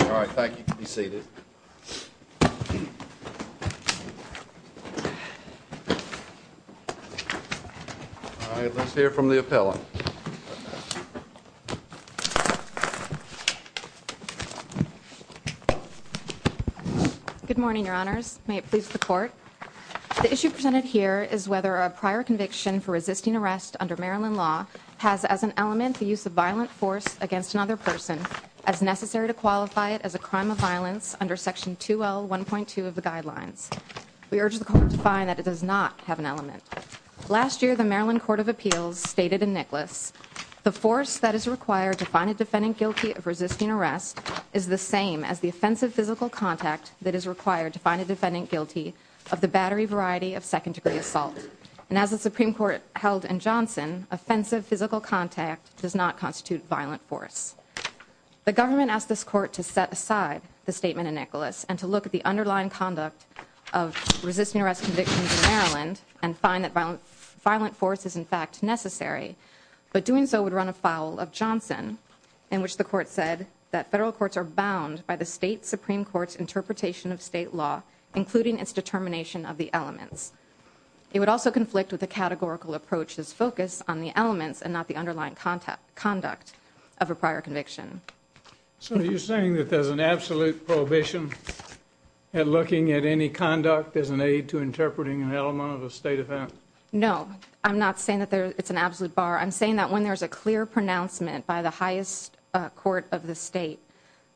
All right, thank you. You can be seated. All right, let's hear from the appellant. Good morning, Your Honors. May it please the Court? The issue presented here is whether a prior conviction for resisting arrest under Maryland law has as an element the use of violent force against another person as necessary to qualify it as a crime of violence under Section 2L1.2 of the Guidelines. We urge the Court to find that it does not have an element. Last year, the Maryland Court of Appeals stated in Nicholas, the force that is required to find a defendant guilty of resisting arrest is the same as the offensive physical contact that is required to find a defendant guilty of the battery variety of second-degree assault. And as the Supreme Court held in Johnson, offensive physical contact does not constitute violent force. The government asked this Court to set aside the statement in Nicholas and to look at the underlying conduct of resisting arrest convictions in Maryland and find that violent force is, in fact, necessary. But doing so would run afoul of Johnson, in which the Court said that federal courts are bound by the state Supreme Court's interpretation of state law, including its determination of the elements. It would also conflict with the categorical approach's focus on the elements and not the underlying conduct of a prior conviction. So are you saying that there's an absolute prohibition in looking at any conduct as an aid to interpreting an element of a state offense? No, I'm not saying that it's an absolute bar. I'm saying that when there's a clear pronouncement by the highest court of the state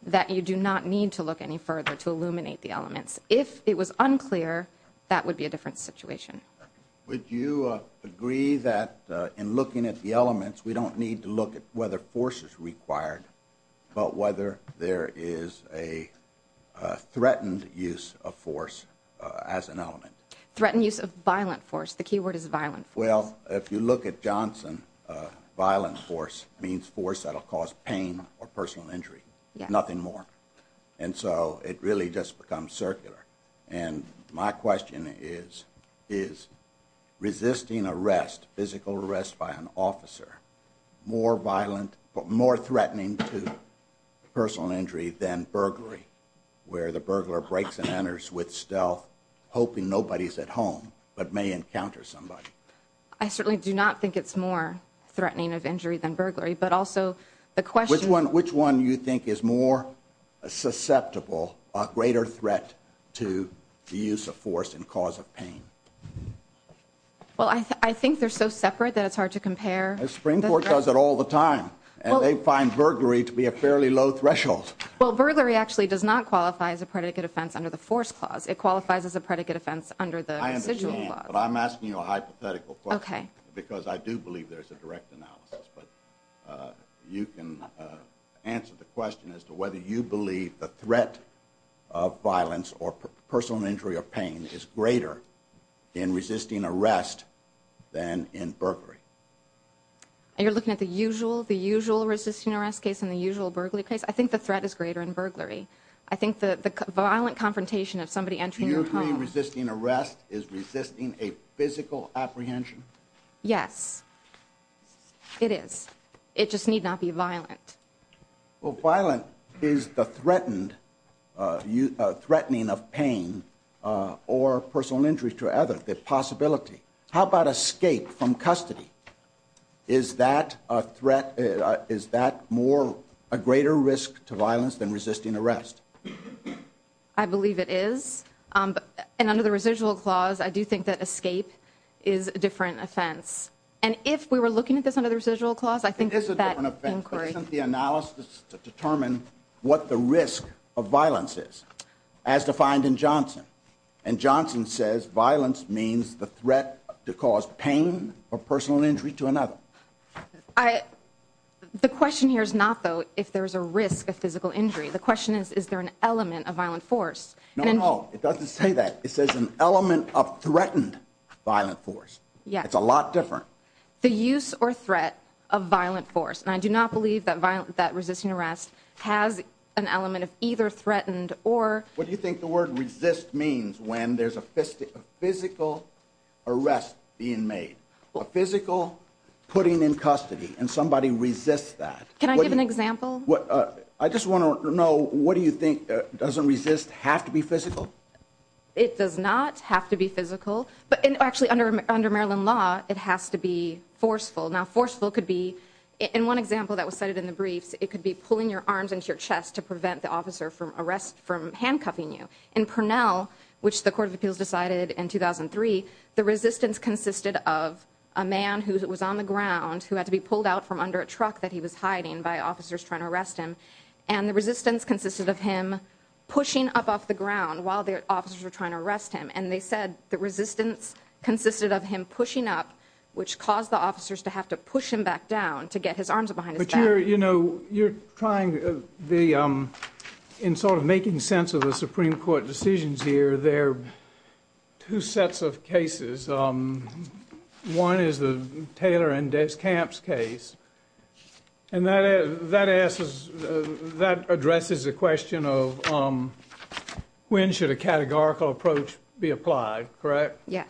that you do not need to look any further to illuminate the elements. If it was unclear, that would be a different situation. Would you agree that in looking at the elements, we don't need to look at whether force is required, but whether there is a threatened use of force as an element? Threatened use of violent force. The key word is violent. Well, if you look at Johnson, violent force means force that will cause pain or personal injury. Nothing more. And so it really just becomes circular. And my question is, is resisting arrest, physical arrest by an officer, more threatening to personal injury than burglary, where the burglar breaks and enters with stealth, hoping nobody's at home, but may encounter somebody? I certainly do not think it's more threatening of injury than burglary. Which one do you think is more susceptible, a greater threat to the use of force and cause of pain? Well, I think they're so separate that it's hard to compare. The Supreme Court does it all the time, and they find burglary to be a fairly low threshold. Well, burglary actually does not qualify as a predicate offense under the force clause. It qualifies as a predicate offense under the visual clause. I understand, but I'm asking you a hypothetical question because I do believe there's a direct analogy. You can answer the question as to whether you believe the threat of violence or personal injury or pain is greater in resisting arrest than in burglary. And you're looking at the usual resisting arrest case and the usual burglary case? I think the threat is greater in burglary. I think the violent confrontation of somebody entering your home... Do you agree resisting arrest is resisting a physical apprehension? Yes. It is. It just need not be violent. Well, violent is the threatening of pain or personal injury to others. It's a possibility. How about escape from custody? Is that a greater risk to violence than resisting arrest? I believe it is. And under the residual clause, I do think that escape is a different offense. And if we were looking at this under the residual clause, I think that... Isn't the analysis to determine what the risk of violence is as defined in Johnson? And Johnson says violence means the threat to cause pain or personal injury to another. The question here is not though if there's a risk of physical injury. The question is, is there an element of violent force? No, no. It doesn't say that. It says an element of threatened violent force. Yes. It's a lot different. The use or threat of violent force. And I do not believe that resisting arrest has an element of either threatened or... What do you think the word resist means when there's a physical arrest being made? A physical putting in custody and somebody resists that. Can I give an example? I just want to know, what do you think, does a resist have to be physical? It does not have to be physical. But actually under Maryland law, it has to be forceful. Now forceful could be, in one example that was cited in the brief, it could be pulling your arms into your chest to prevent the officer from handcuffing you. In Parnell, which the Court of Appeals decided in 2003, the resistance consisted of a man who was on the ground who had to be pulled out from under a truck that he was hiding by officers trying to arrest him. And the resistance consisted of him pushing up off the ground while the officers were trying to arrest him. And they said the resistance consisted of him pushing up, which caused the officers to have to push him back down to get his arms behind his back. But you're trying, in sort of making sense of the Supreme Court decisions here, there are two sets of cases. One is the Taylor and Descamps case. And that addresses the question of when should a categorical approach be applied, correct? Yeah.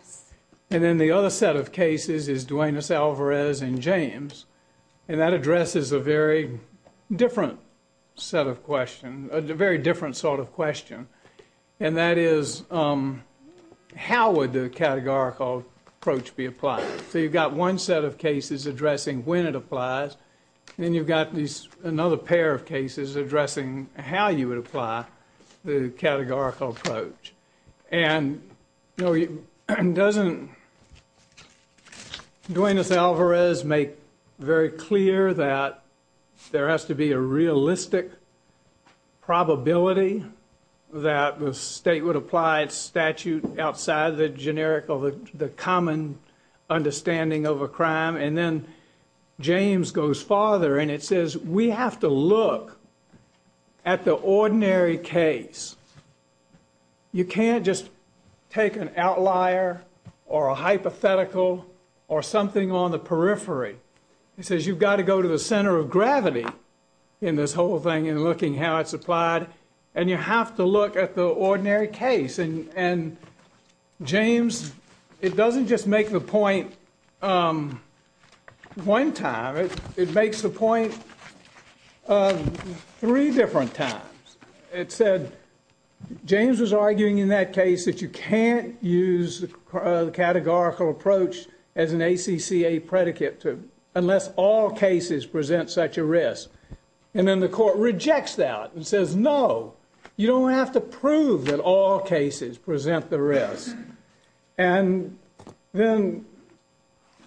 And then the other set of cases is Duenas-Alvarez and James. And that addresses a very different set of questions, a very different sort of question. And that is, how would the categorical approach be applied? So you've got one set of cases addressing when it applies. Then you've got another pair of cases addressing how you would apply the categorical approach. And, you know, doesn't Duenas-Alvarez make very clear that there has to be a realistic probability that the state would apply a statute outside the generic or the common understanding of a crime? And then James goes farther and it says we have to look at the ordinary case. You can't just take an outlier or a hypothetical or something on the periphery. It says you've got to go to the center of gravity in this whole thing in looking how it's applied. And you have to look at the ordinary case. And James, it doesn't just make the point one time. It makes the point three different times. It said James was arguing in that case that you can't use the categorical approach as an ACCA predicate unless all cases present such a risk. And then the court rejects that and says no, you don't have to prove that all cases present the risk. And then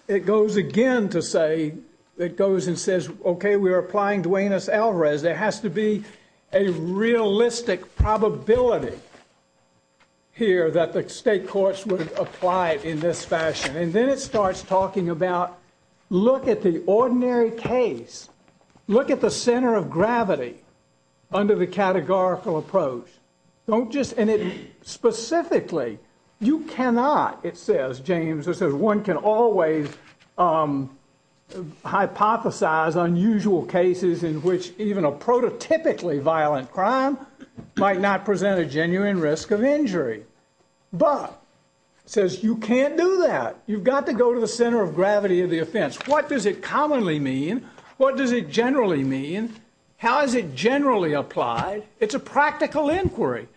it goes again to say, it goes and says, okay, we're applying Duenas-Alvarez. There has to be a realistic probability here that the state courts would apply it in this fashion. And then it starts talking about look at the ordinary case. Look at the center of gravity under the categorical approach. Don't just, and it specifically, you cannot, it says, James, it says one can always hypothesize unusual cases in which even a prototypically violent crime might not present a genuine risk of injury. But it says you can't do that. You've got to go to the center of gravity of the offense. What does it commonly mean? What does it generally mean? How is it generally applied? It's a practical inquiry.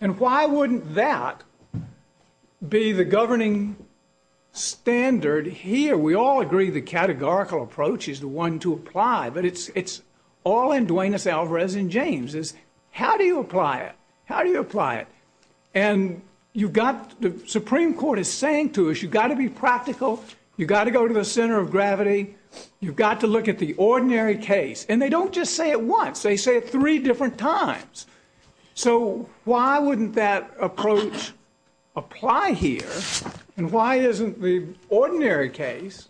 And why wouldn't that be the governing standard here? We all agree the categorical approach is the one to apply, but it's all in Duenas-Alvarez and James. How do you apply it? How do you apply it? And you've got, the Supreme Court is saying to us, you've got to be practical. You've got to go to the center of gravity. You've got to look at the ordinary case. And they don't just say it once. They say it three different times. So why wouldn't that approach apply here? And why isn't the ordinary case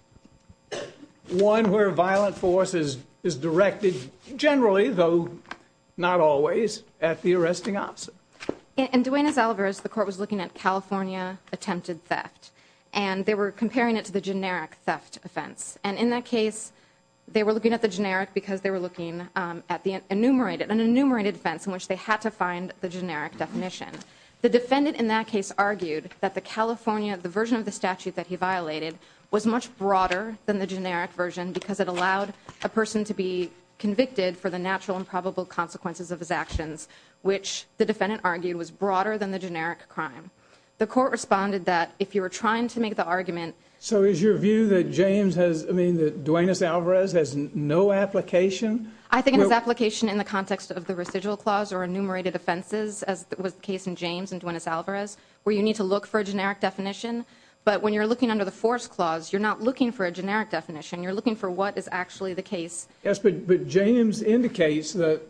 one where violent force is directed generally, though not always, at the arresting officer? In Duenas-Alvarez, the court was looking at California attempted theft. And they were comparing it to the generic theft offense. And in that case, they were looking at the generic because they were looking at the enumerated, which they had to find the generic definition. The defendant in that case argued that the California version of the statute that he violated was much broader than the generic version because it allowed a person to be convicted for the natural and probable consequences of his actions, which the defendant argued was broader than the generic crime. The court responded that if you were trying to make the argument. So is your view that Duenas-Alvarez has no application? I think it has application in the context of the residual clause or enumerated offenses, as was the case in James and Duenas-Alvarez, where you need to look for a generic definition. But when you're looking under the force clause, you're not looking for a generic definition. You're looking for what is actually the case. Yes, but James indicates that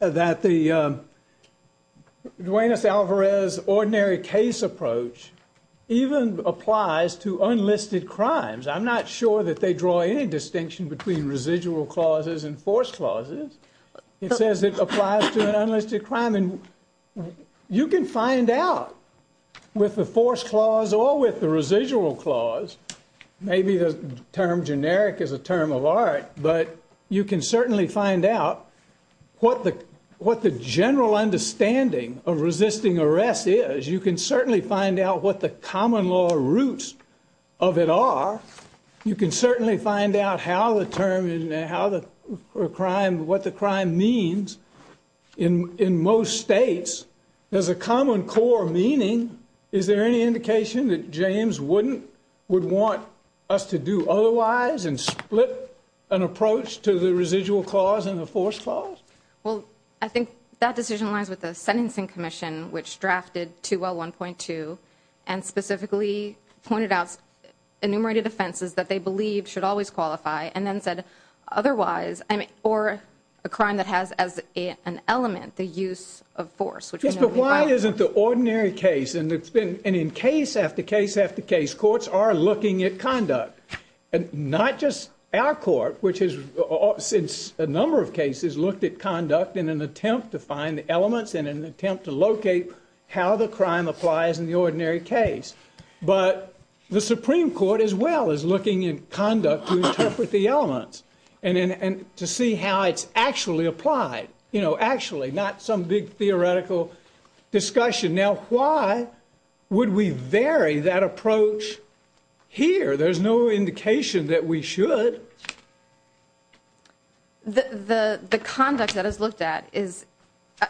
the Duenas-Alvarez ordinary case approach even applies to unlisted crimes. I'm not sure that they draw any distinction between residual clauses and force clauses. It says it applies to an unlisted crime. And you can find out with the force clause or with the residual clause. Maybe the term generic is a term of art, but you can certainly find out what the general understanding of resisting arrest is. You can certainly find out what the common law roots of it are. You can certainly find out how the term and what the crime means in most states. There's a common core meaning. Is there any indication that James would want us to do otherwise and split an approach to the residual clause and the force clause? Well, I think that decision lies with the Sentencing Commission, which drafted 2L1.2 and specifically pointed out enumerated offenses that they believe should always qualify and then said otherwise, or a crime that has as an element the use of force. But why is it the ordinary case? And in case after case after case, courts are looking at conduct, not just our court, which has, in a number of cases, looked at conduct in an attempt to find the elements and an attempt to locate how the crime applies in the ordinary case, but the Supreme Court as well is looking at conduct to interpret the elements and to see how it's actually applied. You know, actually, not some big theoretical discussion. Now, why would we vary that approach here? There's no indication that we should. The conduct that is looked at is,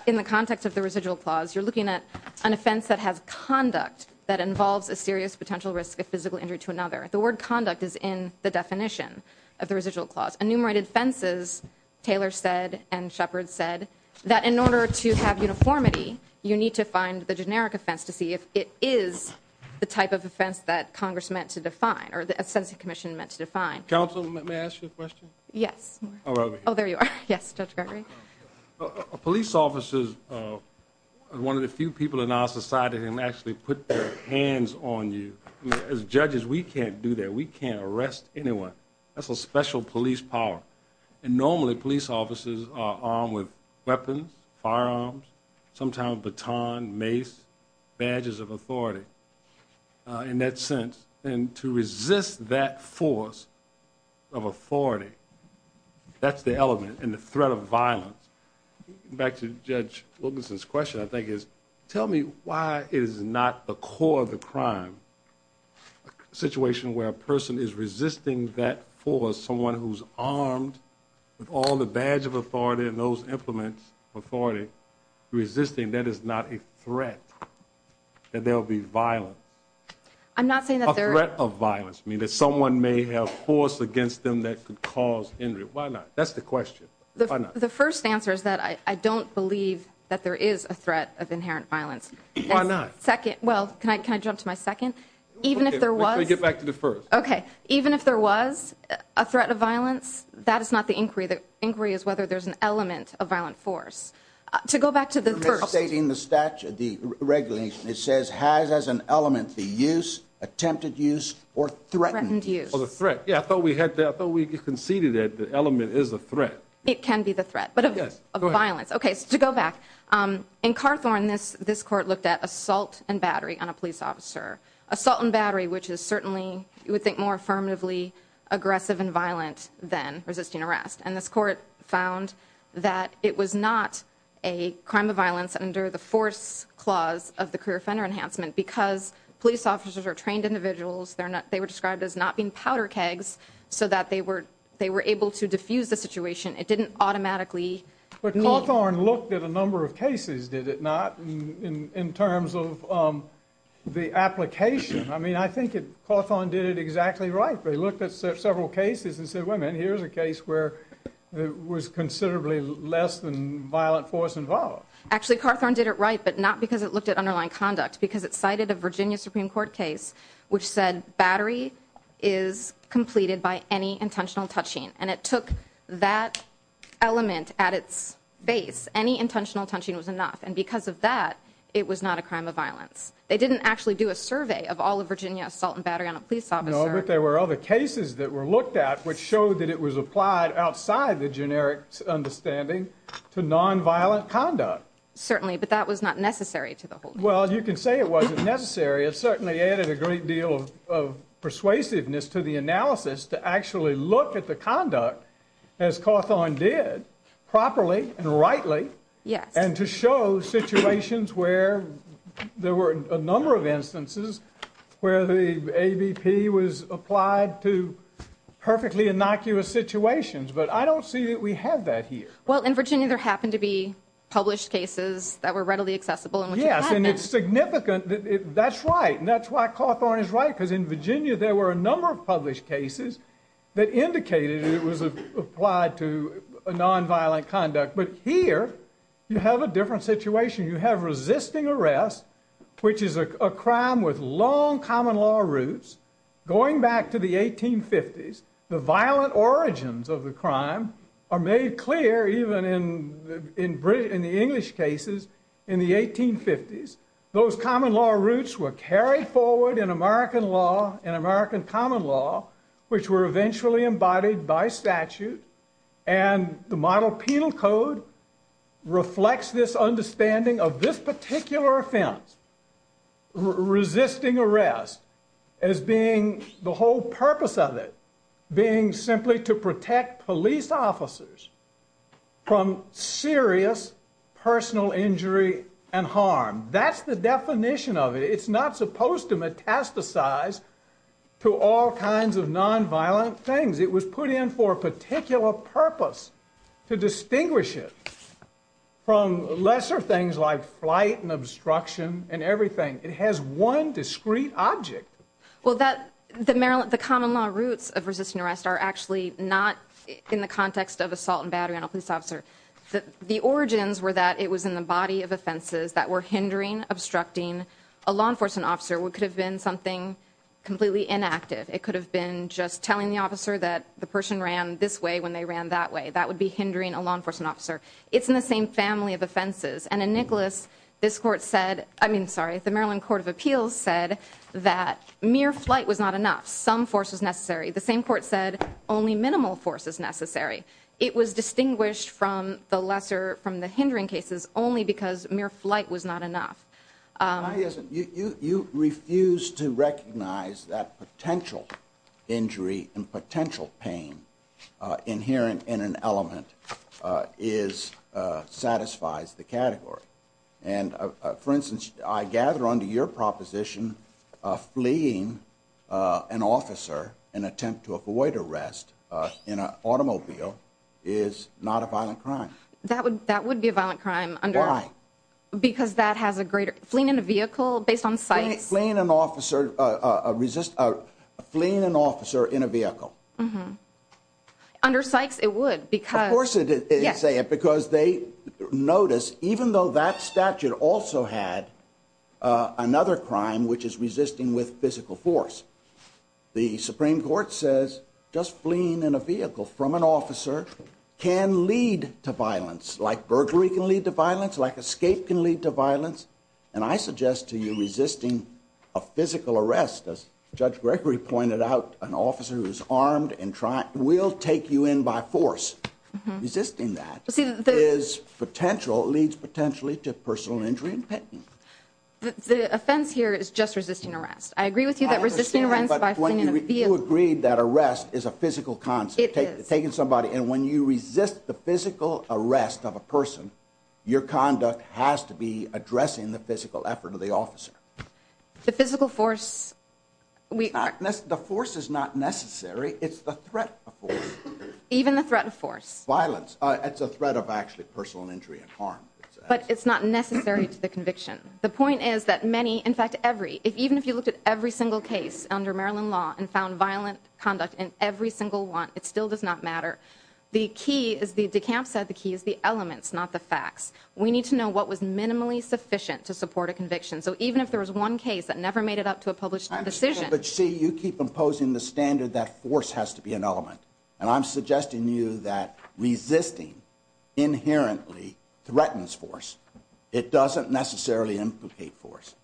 in the context of the residual clause, you're looking at an offense that has conduct that involves a serious potential risk of physical injury to another. The word conduct is in the definition of the residual clause. Enumerated offenses, Taylor said and Shepard said, that in order to have uniformity, you need to find the generic offense to see if it is the type of offense that Congress meant to define or that the Sentencing Commission meant to define. Counsel, may I ask you a question? Yes. Oh, there you are. Yes, Judge Gregory. Police officers are one of the few people in our society who can actually put their hands on you. As judges, we can't do that. We can't arrest anyone. That's a special police power. And normally, police officers are armed with weapons, firearms, sometimes batons, mace, badges of authority. In that sense, to resist that force of authority, that's the element in the threat of violence. Back to Judge Wilkinson's question, I think, is tell me why it is not the core of the crime, a situation where a person is resisting that force, someone who's armed with all the badge of authority and those implements of authority, that is not a threat that there will be violence. A threat of violence means that someone may have force against them that could cause injury. Why not? That's the question. The first answer is that I don't believe that there is a threat of inherent violence. Why not? Well, can I jump to my second? Even if there was a threat of violence, that is not the inquiry. The inquiry is whether there's an element of violent force. To go back to the first... You're misstating the regulation. It says, has as an element the use, attempted use, or threatened use. Oh, the threat. Yeah, I thought we conceded that the element is a threat. It can be the threat of violence. Okay, to go back. In Carthorne, this court looked at assault and battery on a police officer. Assault and battery, which is certainly, you would think, more affirmatively aggressive and violent than resisting arrest. And this court found that it was not a crime of violence under the force clause of the Career Center Enhancement because police officers are trained individuals. They were described as not being powder kegs so that they were able to diffuse the situation. It didn't automatically... But Carthorne looked at a number of cases, did it not, in terms of the application? I mean, I think Carthorne did it exactly right. They looked at several cases and said, here's a case where there was considerably less than violent force involved. Actually, Carthorne did it right, but not because it looked at underlying conduct, because it cited a Virginia Supreme Court case which said battery is completed by any intentional touching. And it took that element at its base. Any intentional touching was enough. And because of that, it was not a crime of violence. They didn't actually do a survey of all of Virginia assault and battery on a police officer. No, but there were other cases that were looked at which showed that it was applied outside the generic understanding to nonviolent conduct. Certainly, but that was not necessary to the whole thing. Well, you can say it wasn't necessary. It certainly added a great deal of persuasiveness to the analysis to actually look at the conduct, as Carthorne did, properly and rightly, and to show situations where there were a number of instances where the ABP was applied to perfectly innocuous situations. But I don't see that we have that here. Well, in Virginia, there happened to be published cases that were readily accessible. Yes, and it's significant. That's right, and that's why Carthorne is right, because in Virginia, there were a number of published cases that indicated it was applied to nonviolent conduct. But here, you have a different situation. You have resisting arrest, which is a crime with long common law roots, going back to the 1850s. The violent origins of the crime are made clear even in the English cases in the 1850s. Those common law roots were carried forward in American law and American common law, which were eventually embodied by statute, and the model penal code reflects this understanding of this particular offense, resisting arrest, as being the whole purpose of it, being simply to protect police officers from serious personal injury and harm. That's the definition of it. It's not supposed to metastasize to all kinds of nonviolent things. It was put in for a particular purpose to distinguish it from lesser things like flight and obstruction and everything. It has one discrete object. Well, the common law roots of resisting arrest are actually not in the context of assault and battery on a police officer. The origins were that it was in the body of offenses that were hindering, obstructing a law enforcement officer. It could have been something completely inactive. It could have been just telling the officer that the person ran this way when they ran that way. That would be hindering a law enforcement officer. It's in the same family of offenses. And in Nicholas, this court said... I mean, sorry, the Maryland Court of Appeals said that mere flight was not enough. Some force was necessary. The same court said only minimal force is necessary. It was distinguished from the hindering cases only because mere flight was not enough. You refuse to recognize that potential injury and potential pain inherent in an element satisfies the category. For instance, I gather under your proposition fleeing an officer in an attempt to avoid arrest in an automobile is not a violent crime. That would be a violent crime. Why? Because that has a greater... Fleeing in a vehicle based on sight... Fleeing an officer... Fleeing an officer in a vehicle. Mm-hmm. Under sights, it would because... Of course it would, because they noticed even though that statute also had another crime which is resisting with physical force, the Supreme Court says just fleeing in a vehicle from an officer can lead to violence. Like burglary can lead to violence. Like escape can lead to violence. And I suggest to you resisting a physical arrest as Judge Gregory pointed out, an officer who's armed and trying... will take you in by force. Resisting that is potential, leads potentially to personal injury and pain. The offense here is just resisting arrest. I agree with you that resisting arrest by fleeing in a vehicle... You agreed that arrest is a physical concept. It is. Taking somebody and when you resist the physical arrest of a person, your conduct has to be addressing the physical effort of the officer. The physical force... The force is not necessary. It's the threat of force. Even the threat of force. Violence. It's a threat of actually personal injury and harm. But it's not necessary to the conviction. The point is that many, in fact, every... Even if you look at every single case under Maryland law and found violent conduct in every single one, it still does not matter. The key is the elements, not the facts. We need to know what was minimally sufficient to support a conviction. So even if there was one case that never made it up to a published decision... But, see, you keep imposing the standard that force has to be an element. And I'm suggesting to you that resisting inherently threatens force. It doesn't necessarily implicate force.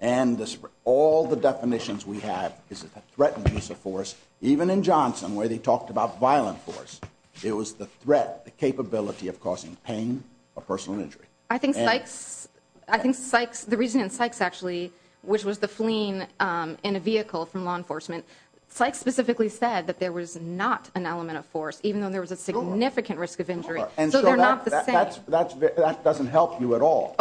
And all the definitions we have, this is a threatening force, even in Johnson where they talked about violent force. It was the threat, the capability of causing pain or personal injury. I think Sykes... The reason Sykes actually, which was the fleeing in a vehicle from law enforcement, Sykes specifically said that there was not an element of force even though there was a significant risk of injury. So they're not the same... That doesn't help you at all.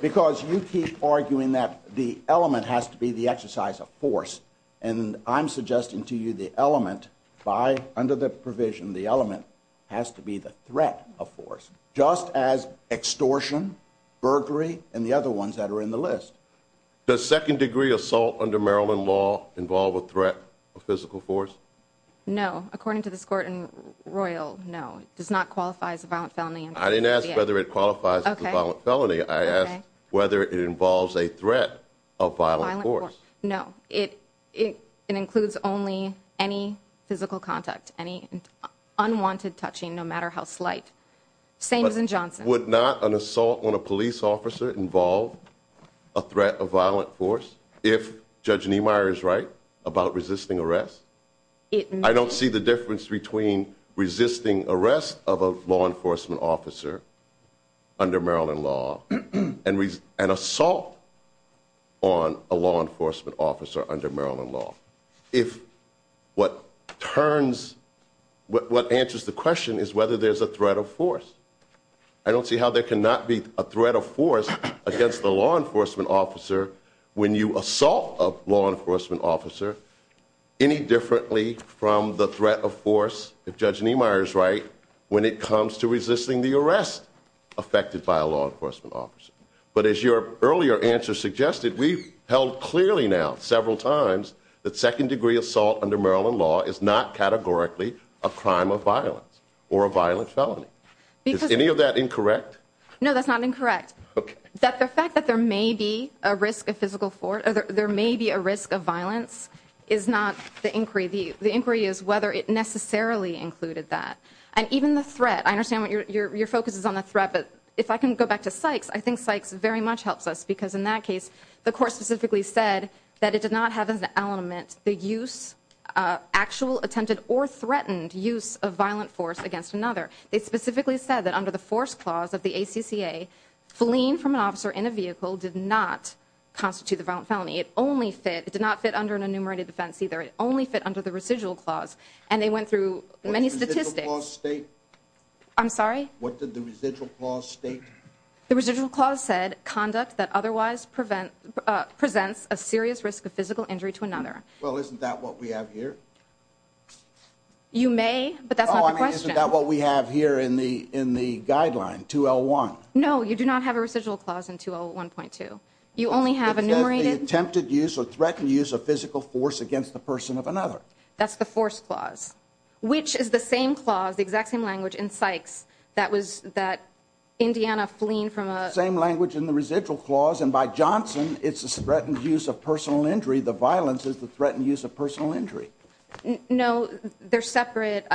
Because you keep arguing that the element has to be the exercise of force. And I'm suggesting to you the element by... The element has to be the threat of force, just as extortion, burglary, and the other ones that are in the list. Does second-degree assault under Maryland law involve a threat of physical force? No, according to this court in Royal, no. It does not qualify as a violent felony. I didn't ask whether it qualifies as a violent felony. I asked whether it involves a threat of violent force. No, it includes only any physical contact, any unwanted touching, no matter how slight. Same as in Johnson. Would not an assault on a police officer involve a threat of violent force if Judge Niemeyer is right about resisting arrest? I don't see the difference between resisting arrest of a law enforcement officer under Maryland law and assault on a law enforcement officer under Maryland law. If what turns... What answers the question is whether there's a threat of force. I don't see how there cannot be a threat of force against a law enforcement officer when you assault a law enforcement officer any differently from the threat of force, if Judge Niemeyer is right, when it comes to resisting the arrest affected by a law enforcement officer. But as your earlier answer suggested, we've held clearly now several times that second-degree assault under Maryland law is not categorically a crime of violence or a violent felony. Is any of that incorrect? No, that's not incorrect. The fact that there may be a risk of physical force, there may be a risk of violence, is not the inquiry. The inquiry is whether it necessarily included that. And even the threat, I understand your focus is on the threat, but if I can go back to Sykes, I think Sykes very much helps us because in that case, the court specifically said that it did not have as an element the use, actual attempted or threatened use of violent force against another. It specifically said that under the force clause of the ACCA, fleeing from an officer in a vehicle did not constitute a violent felony. It only fit, it did not fit under an enumerated defense either. It only fit under the residual clause. And they went through many statistics. What did the residual clause state? I'm sorry? What did the residual clause state? The residual clause said, conduct that otherwise presents a serious risk of physical injury to another. Well, isn't that what we have here? You may, but that's not the question. Oh, I mean, isn't that what we have here in the guideline, 2L1? No, you do not have a residual clause in 2L1.2. You only have enumerated... Attempted use or threatened use of physical force against the person of another. That's the force clause, which is the same clause, the exact same language in Sykes, that was that Indiana fleeing from a... Same language in the residual clause, and by Johnson, it's a threatened use of personal injury. The violence is the threatened use of personal injury. No, they're separate.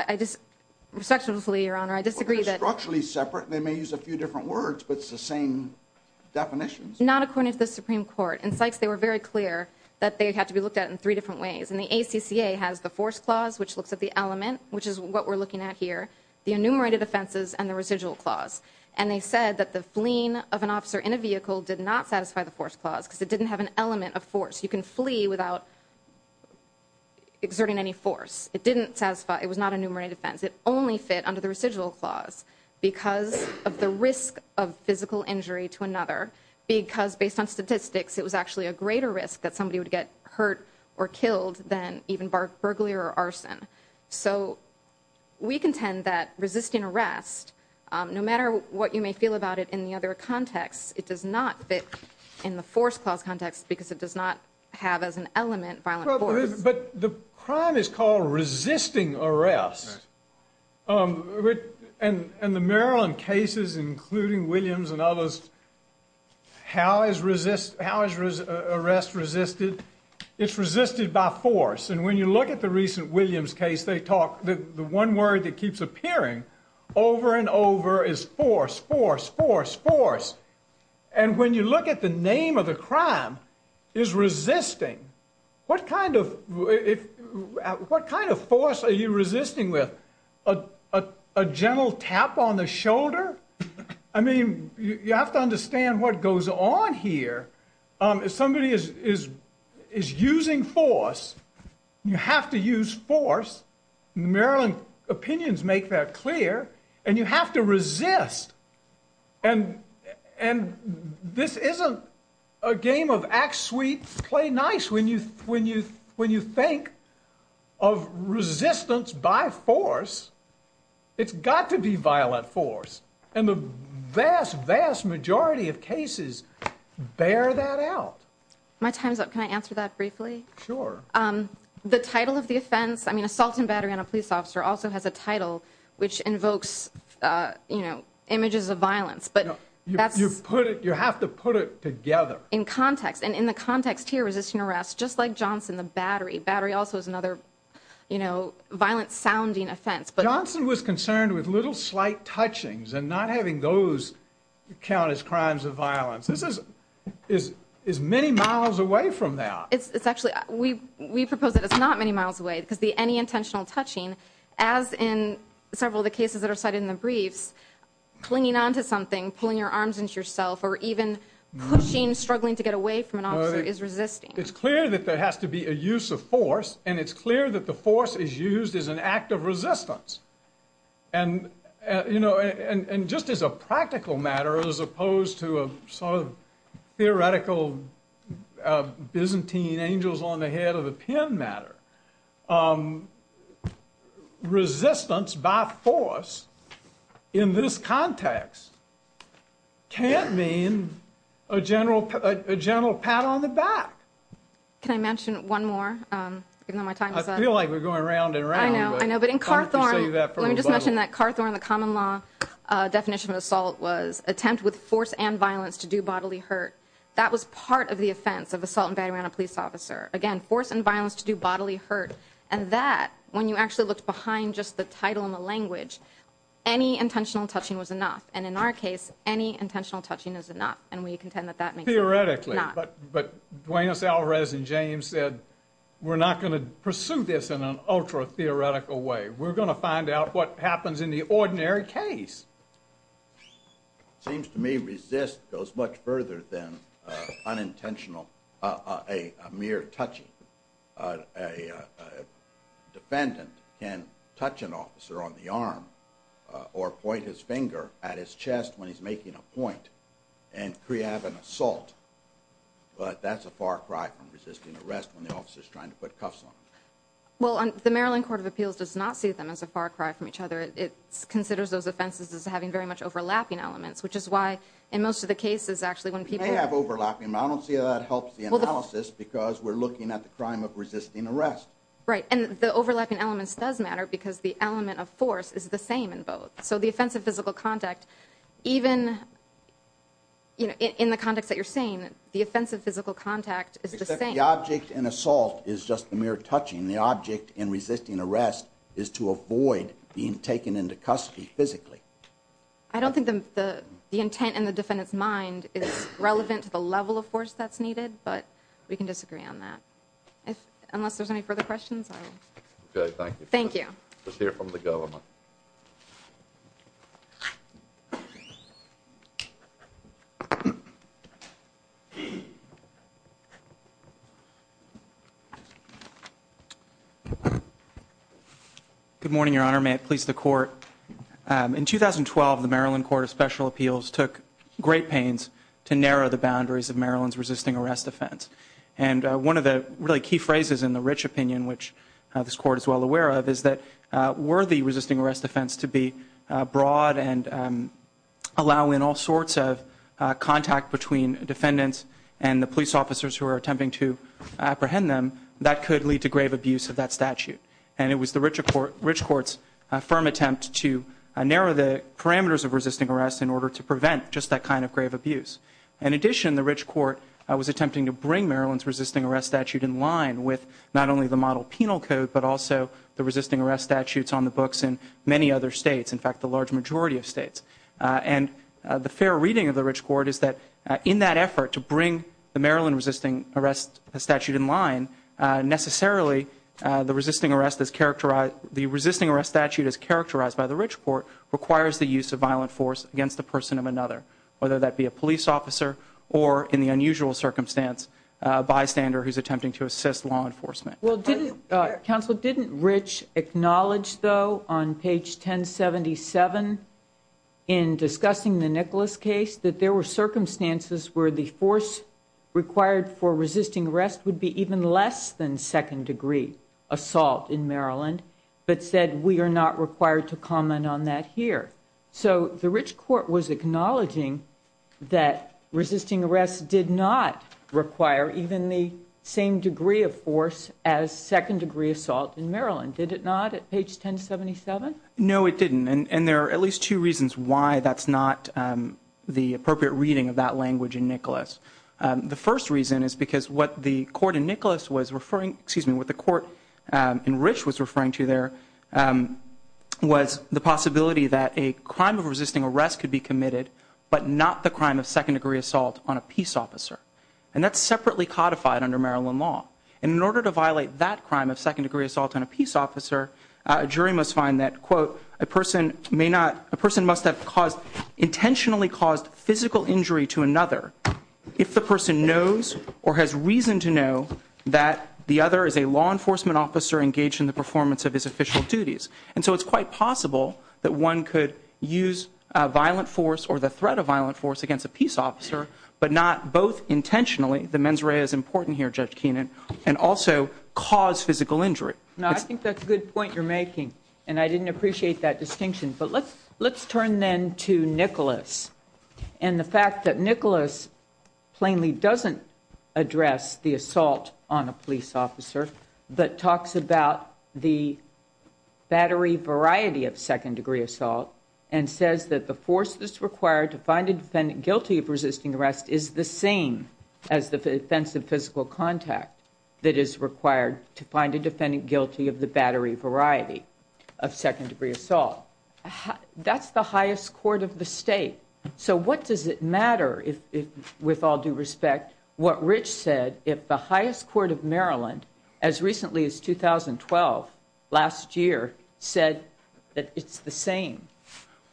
Respectfully, Your Honour, I disagree that... Well, they're structurally separate. They may use a few different words, but it's the same definitions. Not according to the Supreme Court. In Sykes, they were very clear that they had to be looked at in three different ways. And the ACCA has the force clause, which looks at the element, which is what we're looking at here, the enumerated offences and the residual clause. And they said that the fleeing of an officer in a vehicle did not satisfy the force clause because it didn't have an element of force. You can flee without exerting any force. It didn't satisfy... It was not enumerated offence. It only fit under the residual clause because of the risk of physical injury to another, because, based on statistics, it was actually a greater risk that somebody would get hurt or killed than even burglary or arson. So we contend that resisting arrest, no matter what you may feel about it in the other context, it does not fit in the force clause context because it does not have as an element violent force. But the crime is called resisting arrest. And the Maryland cases, including Williams and others, how is arrest resisted? It's resisted by force. And when you look at the recent Williams case, the one word that keeps appearing over and over is force, force, force, force. And when you look at the name of the crime, it's resisting. What kind of force are you resisting with? A gentle tap on the shoulder? I mean, you have to understand what goes on here. If somebody is using force, you have to use force. Maryland opinions make that clear. And you have to resist. And this isn't a game of act sweet, play nice. When you think of resistance by force, it's got to be violent force. And the vast, vast majority of cases bear that out. My time's up. Can I answer that briefly? Sure. The title of the offense, I mean, assault and battery on a police officer also has a title which invokes images of violence. You have to put it together. In context. And in the context here, resisting arrest, just like Johnson, the battery. Battery also is another violent-sounding offense. Johnson was concerned with little slight touchings and not having those count as crimes of violence. This is many miles away from that. We propose that it's not many miles away. It could be any intentional touching, as in several of the cases that are cited in the brief, clinging onto something, pulling your arms into yourself, or even pushing, struggling to get away from an officer, is resisting. It's clear that there has to be a use of force, and it's clear that the force is used as an act of resistance. And, you know, and just as a practical matter, as opposed to a sort of theoretical Byzantine angels on the head of a pin matter, resistance by force in this context can't mean a general pat on the back. Can I mention one more? I feel like we're going around and around. I know, but in Carthorne, let me just mention that Carthorne, the common law definition of assault was attempt with force and violence to do bodily hurt. That was part of the offense of assaulting a police officer. Again, force and violence to do bodily hurt. And that, when you actually look behind just the title and the language, any intentional touching was enough. And in our case, any intentional touching is enough. And we contend that that makes sense. Theoretically. But Dwayne, Alrez, and James said, we're not going to pursue this in an ultra-theoretical way. We're going to find out what happens in the ordinary case. Seems to me resist goes much further than unintentional, a mere touching. A defendant can touch an officer on the arm or point his finger at his chest when he's making a point and preempt an assault. But that's a far cry from resisting arrest when the officer's trying to put cuffs on him. Well, the Maryland Court of Appeals does not see them as a far cry from each other. It considers those offenses as having very much overlapping elements, which is why in most of the cases, actually, when people... We have overlapping, but I don't see how that helps the analysis because we're looking at the crime of resisting arrest. Right. And the overlapping elements does matter because the element of force is the same in both. So the offense of physical contact, even in the context that you're saying, the offense of physical contact is the same. Except the object in assault is just a mere touching. The object in resisting arrest is to avoid being taken into custody physically. I don't think the intent in the defendant's mind is relevant to the level of force that's needed, but we can disagree on that. Unless there's any further questions. Okay, thank you. Thank you. Let's hear from the government. Good morning, Your Honor. May it please the Court. In 2012, the Maryland Court of Special Appeals took great pains to narrow the boundaries of Maryland's resisting arrest offense. And one of the really key phrases in the Rich opinion, which this Court is well aware of, is that were the resisting arrest offense to be broad and allow in all sorts of contact between defendants and the police officers who are attempting to apprehend them, that could lead to grave abuse of that statute. And it was the Rich Court's firm attempt to narrow the parameters of resisting arrest in order to prevent just that kind of grave abuse. In addition, the Rich Court was attempting to bring Maryland's resisting arrest statute in line with not only the model penal code, but also the resisting arrest statutes on the books in many other states, in fact, the large majority of states. And the fair reading of the Rich Court is that in that effort to bring the Maryland resisting arrest statute in line, necessarily the resisting arrest statute as characterized by the Rich Court requires the use of violent force against a person of another, whether that be a police officer or, in the unusual circumstance, a bystander who's attempting to assist law enforcement. Well, didn't... Counsel, didn't Rich acknowledge, though, on page 1077 in discussing the Nicholas case that there were circumstances where the force required for resisting arrest would be even less than second-degree assault in Maryland, but said we are not required to comment on that here? So the Rich Court was acknowledging that resisting arrest did not require even the same degree of force as second-degree assault in Maryland, did it not, at page 1077? No, it didn't. And there are at least two reasons why that's not the appropriate reading of that language in Nicholas. The first reason is because what the court in Nicholas was referring... Excuse me, what the court in Rich was referring to there was the possibility that a crime of resisting arrest could be committed, but not the crime of second-degree assault on a peace officer. And that's separately codified under Maryland law. And in order to violate that crime of second-degree assault on a peace officer, a jury must find that, quote, a person may not... A person must have caused... intentionally caused physical injury to another if the person knows or has reason to know that the other is a law enforcement officer engaged in the performance of his official duties. And so it's quite possible that one could use a violent force or the threat of violent force against a peace officer, but not both intentionally... The mens rea is important here, Judge Keenan... and also cause physical injury. Now, I think that's a good point you're making, and I didn't appreciate that distinction. But let's turn then to Nicholas and the fact that Nicholas plainly doesn't address the assault on a police officer, but talks about the battery variety of second-degree assault and says that the force that's required to find a defendant guilty of resisting arrest is the same as the offensive physical contact that is required to find a defendant guilty of the battery variety of second-degree assault. That's the highest court of the state. So what does it matter, with all due respect, what Rich said if the highest court of Maryland, as recently as 2012, last year, said that it's the same?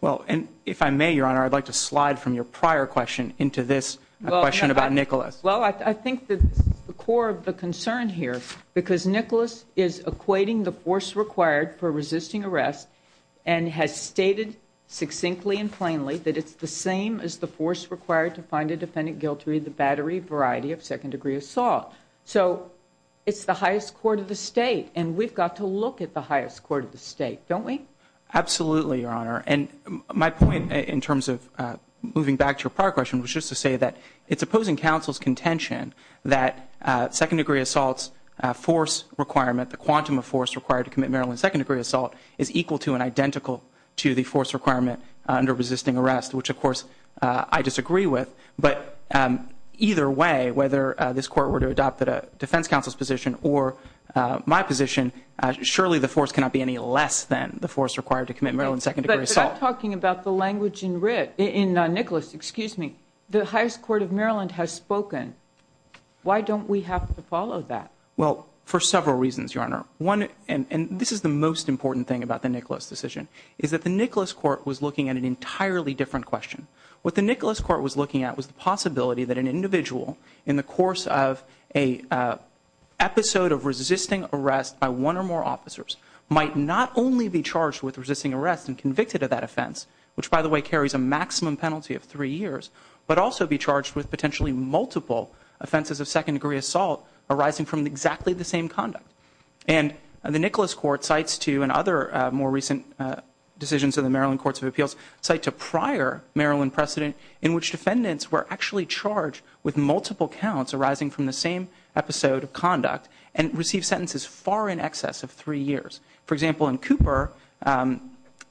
Well, if I may, Your Honor, I'd like to slide from your prior question into this question about Nicholas. Well, I think the core of the concern here, because Nicholas is equating the force required for resisting arrest and has stated succinctly and plainly that it's the same as the force required to find a defendant guilty of the battery variety of second-degree assault. So it's the highest court of the state, and we've got to look at the highest court of the state, don't we? Absolutely, Your Honor. And my point in terms of moving back to your prior question was just to say that it's opposing counsel's contention that second-degree assault's force requirement, the quantum of force required to commit Maryland's second-degree assault, is equal to and identical to the force requirement under resisting arrest, which, of course, I disagree with. But either way, whether this court were to adopt the defense counsel's position or my position, surely the force cannot be any less than the force required to commit Maryland's second-degree assault. But I'm talking about the language in Nicholas. Excuse me. The highest court of Maryland has spoken. Why don't we have to follow that? Well, for several reasons, Your Honor. And this is the most important thing about the Nicholas decision is that the Nicholas court was looking at an entirely different question. What the Nicholas court was looking at was the possibility that an individual, in the course of an episode of resisting arrest by one or more officers, might not only be charged with resisting arrest and convicted of that offense, which, by the way, carries a maximum penalty of three years, but also be charged with potentially multiple offenses of second-degree assault arising from exactly the same conduct. And the Nicholas court cites, too, in other more recent decisions of the Maryland Courts of Appeals, cites a prior Maryland precedent in which defendants were actually charged with multiple counts arising from the same episode of conduct and received sentences far in excess of three years. For example, in Cooper, a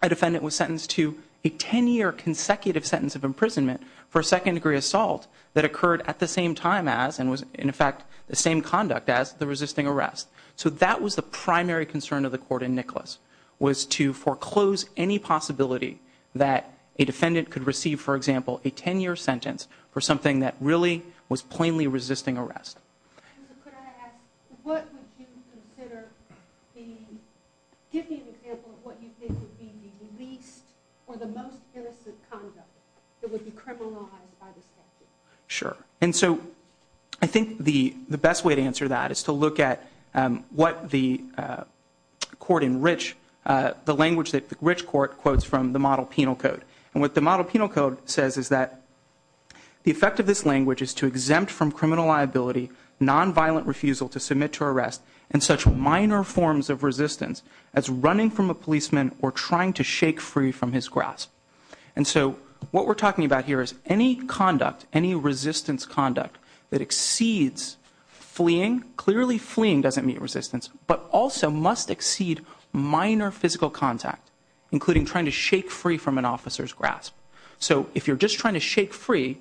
defendant was sentenced to a 10-year consecutive sentence of imprisonment for second-degree assault that occurred at the same time as, and was, in fact, the same conduct as, the resisting arrest. So that was the primary concern of the court in Nicholas, was to foreclose any possibility that a defendant could receive, for example, a 10-year sentence for something that really was plainly resisting arrest. What would you consider the... Give me an example of what you think would be the least or the most sinister conduct that would be criminalized by the statute. Sure. And so I think the best way to answer that is to look at what the court in Rich, the language that the Rich court quotes from the Model Penal Code. And what the Model Penal Code says is that the effect of this language is to exempt from criminal liability, nonviolent refusal to submit to arrest, and such minor forms of resistance as running from a policeman or trying to shake free from his grasp. And so what we're talking about here is any conduct, any resistance conduct that exceeds fleeing, clearly fleeing doesn't mean resistance, but also must exceed minor physical contact, including trying to shake free from an officer's grasp. So if you're just trying to shake free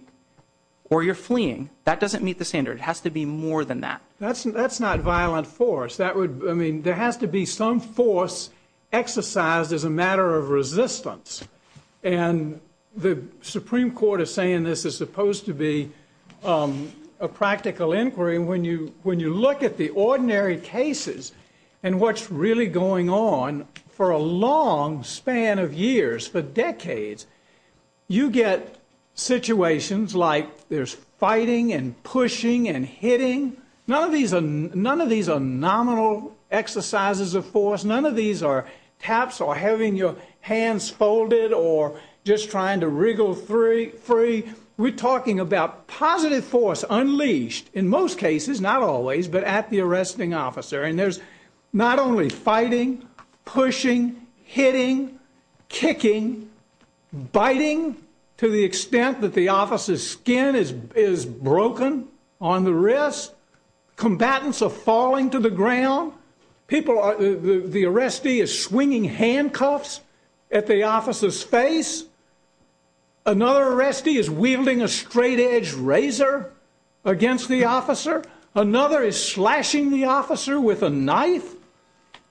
or you're fleeing, that doesn't meet the standard. It has to be more than that. That's not violent force. I mean, there has to be some force exercised as a matter of resistance. And the Supreme Court is saying this is supposed to be a practical inquiry. When you look at the ordinary cases and what's really going on for a long span of years, for decades, you get situations like there's fighting and pushing and hitting. None of these are nominal exercises of force. None of these are taps or having your hands folded or just trying to wriggle free. We're talking about positive force unleashed, in most cases, not always, but at the arresting officer. And there's not only fighting, pushing, hitting, kicking, biting to the extent that the officer's skin is broken on the wrist. Combatants are falling to the ground. The arrestee is swinging handcuffs at the officer's face. Another arrestee is wielding a straightedge razor against the officer. Another is slashing the officer with a knife.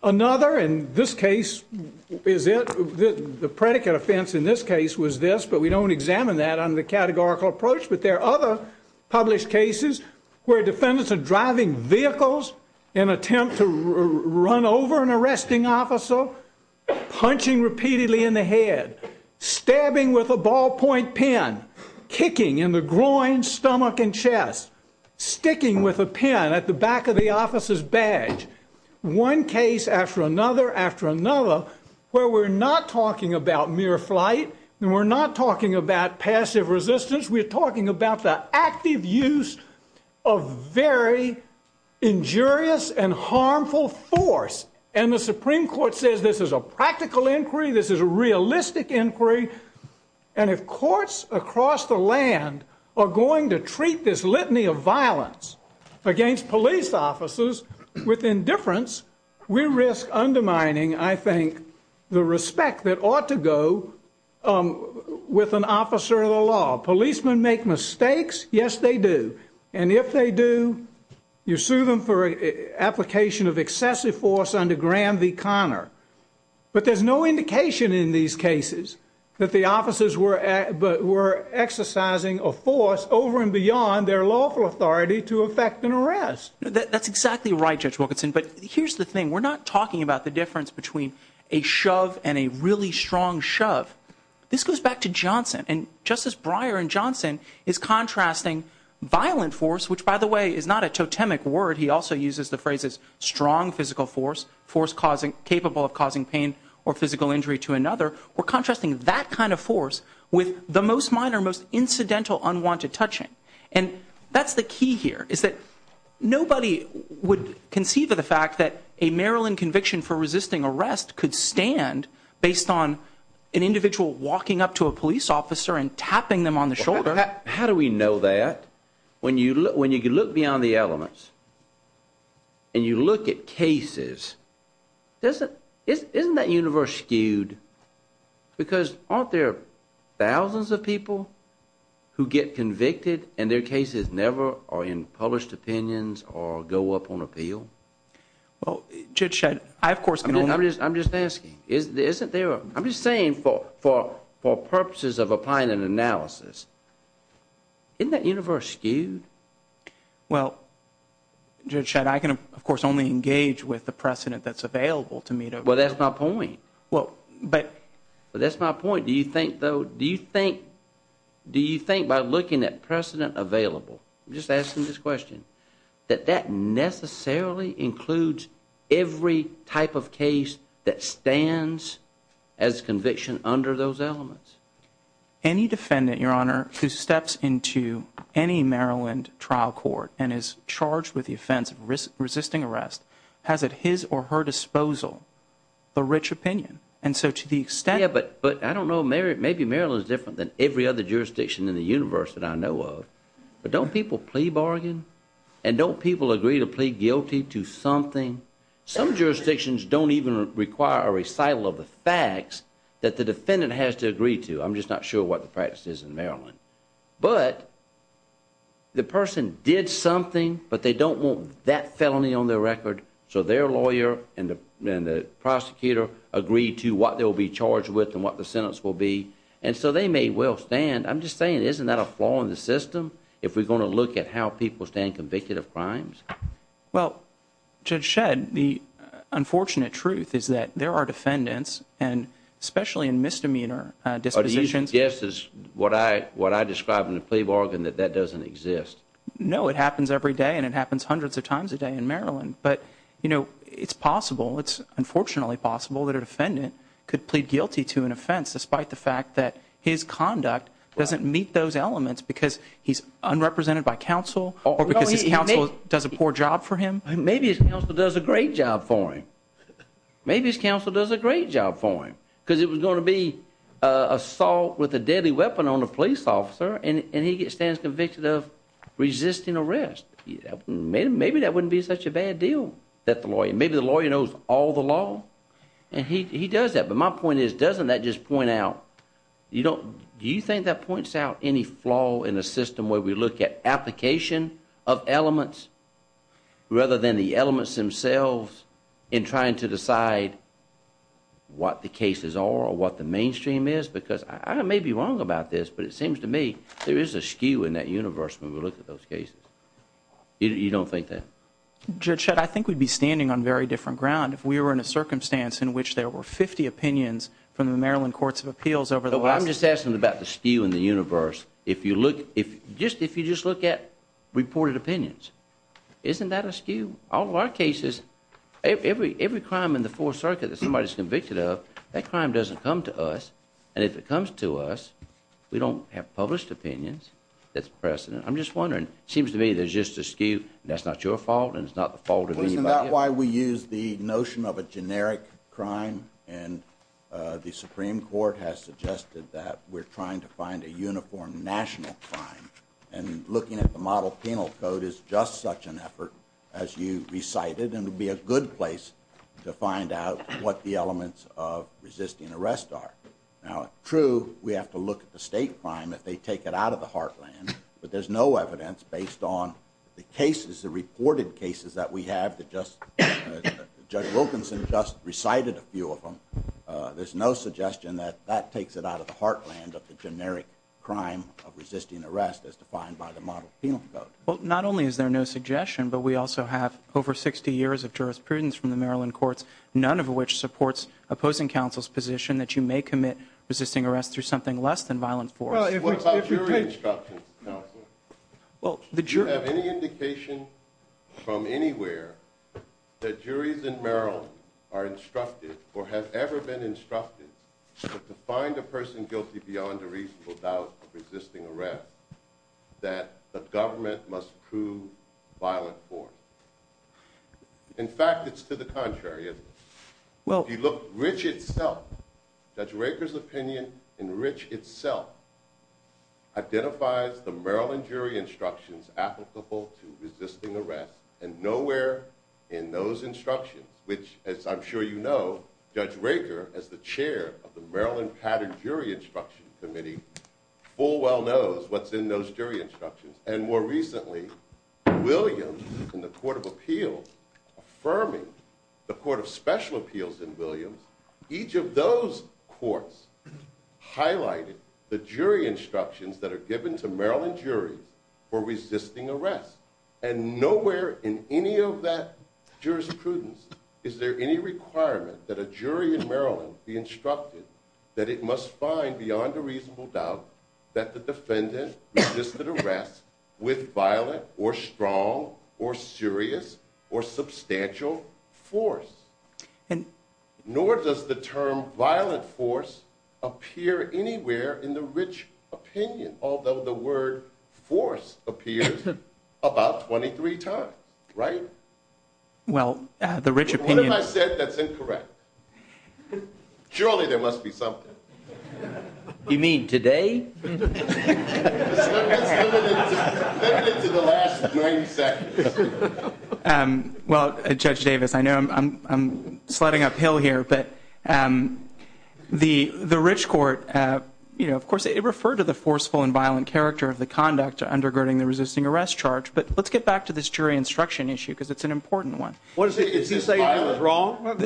Another, and this case is it. The predicate offense in this case was this, but we don't examine that under the categorical approach. But there are other published cases where defendants are driving vehicles and attempt to run over an arresting officer, punching repeatedly in the head, stabbing with a ballpoint pen, kicking in the groin, stomach, and chest, sticking with a pen at the back of the officer's badge. One case after another after another where we're not talking about mere flight and we're not talking about passive resistance. We're talking about the active use of very injurious and harmful force. And the Supreme Court says this is a practical inquiry. This is a realistic inquiry. And if courts across the land are going to treat this litany of violence against police officers with indifference, we risk undermining, I think, the respect that ought to go with an officer of the law. Policemen make mistakes. Yes, they do. And if they do, you sue them for application of excessive force under Graham v. Conner. But there's no indication in these cases that the officers were exercising a force over and beyond their lawful authority to effect an arrest. That's exactly right, Judge Wilkinson. But here's the thing. We're not talking about the difference between a shove and a really strong shove. This goes back to Johnson. And Justice Breyer in Johnson is contrasting violent force, which, by the way, is not a totemic word. He also uses the phrases strong physical force, force capable of causing pain or physical injury to another. We're contrasting that kind of force with the most minor, most incidental unwanted touching. And that's the key here, is that nobody would conceive of the fact that a Maryland conviction for resisting arrest could stand based on an individual walking up to a police officer and tapping them on the shoulder. How do we know that? When you look beyond the elements and you look at cases, isn't that universe skewed? Because aren't there thousands of people who get convicted and their cases never are in published opinions or go up on appeal? Well, Judge, I, of course... I'm just asking. I'm just saying for purposes of applying an analysis, isn't that universe skewed? Well, Judge Shedd, I can, of course, only engage with the precedent that's available to me. Well, that's my point. But that's my point. Do you think, though... Do you think by looking at precedent available... I'm just asking this question... that that necessarily includes every type of case that stands as conviction under those elements? Any defendant, Your Honor, who steps into any Maryland trial court and is charged with the offense of resisting arrest, has at his or her disposal a rich opinion? And so to the extent... Yeah, but I don't know. Maybe Maryland's different than every other jurisdiction in the universe that I know of. But don't people plea bargain? And don't people agree to plead guilty to something? Some jurisdictions don't even require a recital of the facts that the defendant has to agree to. I'm just not sure what the practice is in Maryland. But the person did something, but they don't want that felony on their record, so their lawyer and the prosecutor agree to what they'll be charged with and what the sentence will be. And so they may well stand. I'm just saying, isn't that a flaw in the system if we're going to look at how people stand convicted of crimes? Well, Judge Shedd, the unfortunate truth is that there are defendants, and especially in misdemeanor dispositions... Are you suggesting what I described in the plea bargain that that doesn't exist? No, it happens every day, and it happens hundreds of times a day in Maryland. But, you know, it's possible, it's unfortunately possible that a defendant could plead guilty to an offense despite the fact that his conduct doesn't meet those elements because he's unrepresented by counsel or because the counsel does a poor job for him. Maybe his counsel does a great job for him. Maybe his counsel does a great job for him because it was going to be assault with a deadly weapon on a police officer, and he stands convicted of resisting arrest. Maybe that wouldn't be such a bad deal that the lawyer... Maybe the lawyer knows all the law, and he does that. But my point is, doesn't that just point out... Do you think that points out any flaw in the system where we look at application of elements rather than the elements themselves in trying to decide what the cases are or what the mainstream is? Because I may be wrong about this, but it seems to me there is a skew in that universe when we look at those cases. You don't think that? Judge Shedd, I think we'd be standing on very different ground if we were in a circumstance in which there were 50 opinions from the Maryland Courts of Appeals over the last... Well, I'm just asking about the skew in the universe. Just if you just look at reported opinions, isn't that a skew? All of our cases, every crime in the Fourth Circuit that somebody's convicted of, that crime doesn't come to us. And if it comes to us, we don't have published opinions. That's precedent. I'm just wondering. It seems to me there's just a skew. That's not your fault, and it's not the fault of anybody else. Isn't that why we use the notion of a generic crime? And the Supreme Court has suggested that we're trying to find a uniform national crime. And looking at the Model Penal Code is just such an effort, as you recited, and would be a good place to find out what the elements of resisting arrest are. Now, true, we have to look at the state crime if they take it out of the heartland, but there's no evidence based on the cases, the reported cases that we have. Judge Wilkinson just recited a few of them. There's no suggestion that that takes it out of the heartland of the generic crime of resisting arrest as defined by the Model Penal Code. Well, not only is there no suggestion, but we also have over 60 years of jurisprudence from the Maryland courts, none of which supports opposing counsel's position that you may commit resisting arrest through something less than violent force. What about jury instruction? Well, the jury... Do you have any indication from anywhere that juries in Maryland are instructed or have ever been instructed to find a person guilty beyond a reasonable doubt of resisting arrest that the government must prove violent force? In fact, it's to the contrary, isn't it? Well... If you look at Rich itself, Judge Raker's opinion in Rich itself identifies the Maryland jury instructions applicable to resisting arrest, and nowhere in those instructions, which, as I'm sure you know, Judge Raker, as the chair of the Maryland Pattern Jury Instruction Committee, full well knows what's in those jury instructions. And more recently, Williams and the Court of Appeals affirming the Court of Special Appeals in Williams, each of those courts highlighted the jury instructions that are given to Maryland juries for resisting arrest, and nowhere in any of that jurisprudence is there any requirement that a jury in Maryland be instructed that it must find beyond a reasonable doubt that the defendant resisted arrest with violent or strong or serious or substantial force. Nor does the term violent force appear anywhere in the Rich opinion, although the word force appears about 23 times, right? Well, the Rich opinion... What if I said that's incorrect? Surely there must be something. You mean today? Let's get to the last joint section. Well, Judge Davis, I know I'm sliding uphill here, but the Rich court, you know, of course, it referred to the forceful and violent character of the conduct undergirding the resisting arrest charge, but let's get back to this jury instruction issue because it's an important one. What is it? Is he saying it's wrong? Is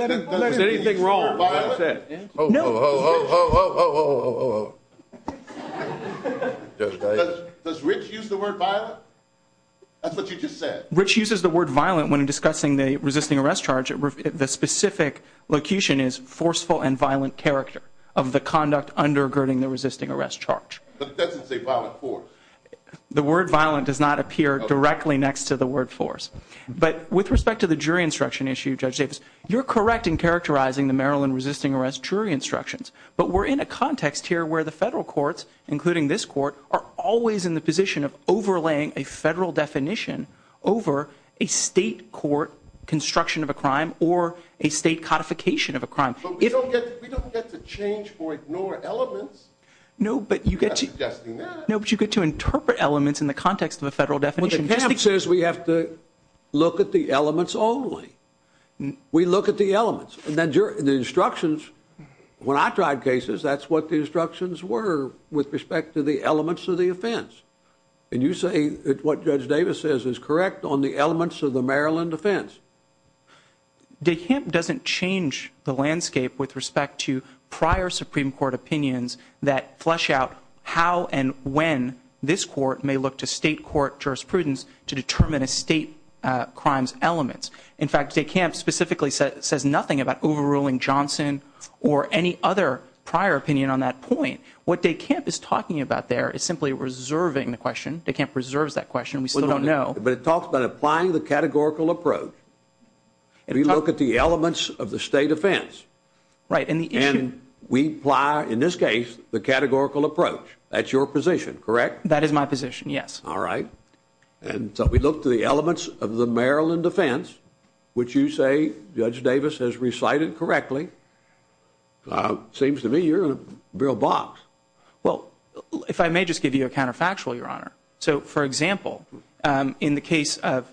anything wrong with what I said? Oh, oh, oh, oh, oh, oh, oh, oh, oh. Does Rich use the word violent? That's what you just said. Rich uses the word violent when discussing the resisting arrest charge. The specific locution is forceful and violent character of the conduct undergirding the resisting arrest charge. That doesn't say violent force. The word violent does not appear directly next to the word force, but with respect to the jury instruction issue, Judge Davis, you're correct in characterizing the Maryland resisting arrest jury instructions, but we're in a context here where the federal courts, including this court, are always in the position of overlaying a federal definition over a state court construction of a crime or a state codification of a crime. But we don't get to change or ignore elements. No, but you get to interpret elements in the context of a federal definition. Well, the HIP says we have to look at the elements only. We look at the elements. And then the instructions, when I tried cases, that's what the instructions were with respect to the elements of the offense. And you say what Judge Davis says is correct on the elements of the Maryland offense. The HIP doesn't change the landscape with respect to prior Supreme Court opinions that flesh out how and when this court may look to state court jurisprudence to determine a state crime's elements. In fact, the HIP specifically says nothing about overruling Johnson or any other prior opinion on that point. What the HIP is talking about there is simply reserving the question. The HIP reserves that question. We still don't know. But it talks about applying the categorical approach. We look at the elements of the state offense. Right. And we apply, in this case, the categorical approach. That's your position, correct? That is my position, yes. All right. And so we look to the elements of the Maryland offense, which you say Judge Davis has recited correctly. Well, if I may just give you a counterfactual, Your Honor. So, for example, in the case of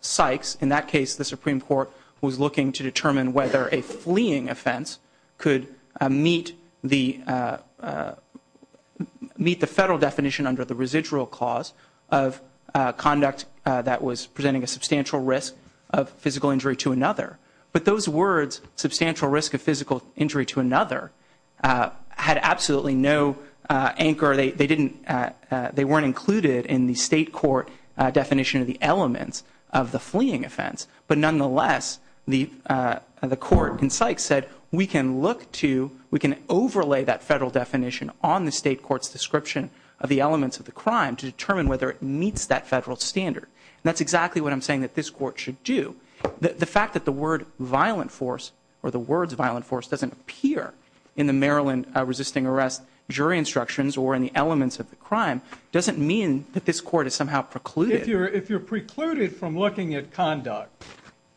Sykes, in that case, the Supreme Court was looking to determine whether a fleeing offense could meet the federal definition under the residual clause of conduct that was presenting a substantial risk of physical injury to another. But those words, substantial risk of physical injury to another, had absolutely no anchor. They weren't included in the state court definition of the elements of the fleeing offense. But nonetheless, the court in Sykes said, we can overlay that federal definition on the state court's description of the elements of the crime to determine whether it meets that federal standard. And that's exactly what I'm saying that this court should do. The fact that the word violent force or the words violent force doesn't appear in the Maryland resisting arrest jury instructions or in the elements of the crime doesn't mean that this court has somehow precluded. If you're precluded from looking at conduct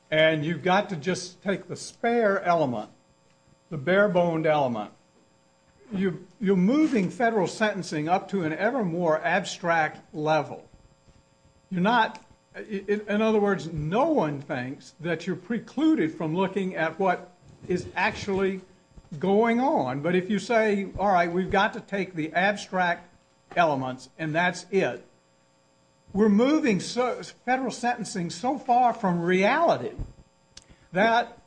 and you've got to just take the spare element, the bare-boned element, you're moving federal sentencing up to an ever more abstract level. You're not, in other words, no one thinks that you're precluded from looking at what is actually going on. But if you say, all right, we've got to take the abstract elements, and that's it, we're moving federal sentencing so far from reality that,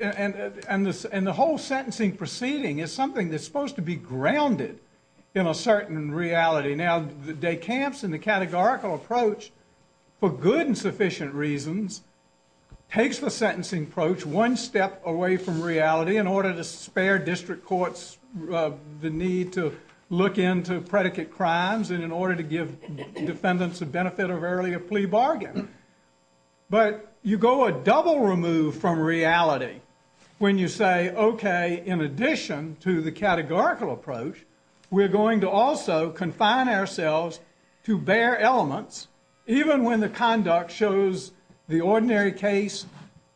and the whole sentencing proceeding is something that's supposed to be grounded in a certain reality. Now, DeCamps and the categorical approach, for good and sufficient reasons, takes the sentencing approach one step away from reality in order to spare district courts the need to look into predicate crimes and in order to give defendants the benefit of early a plea bargain. But you go a double remove from reality when you say, okay, in addition to the categorical approach, we're going to also confine ourselves to bare elements, even when the conduct shows the ordinary case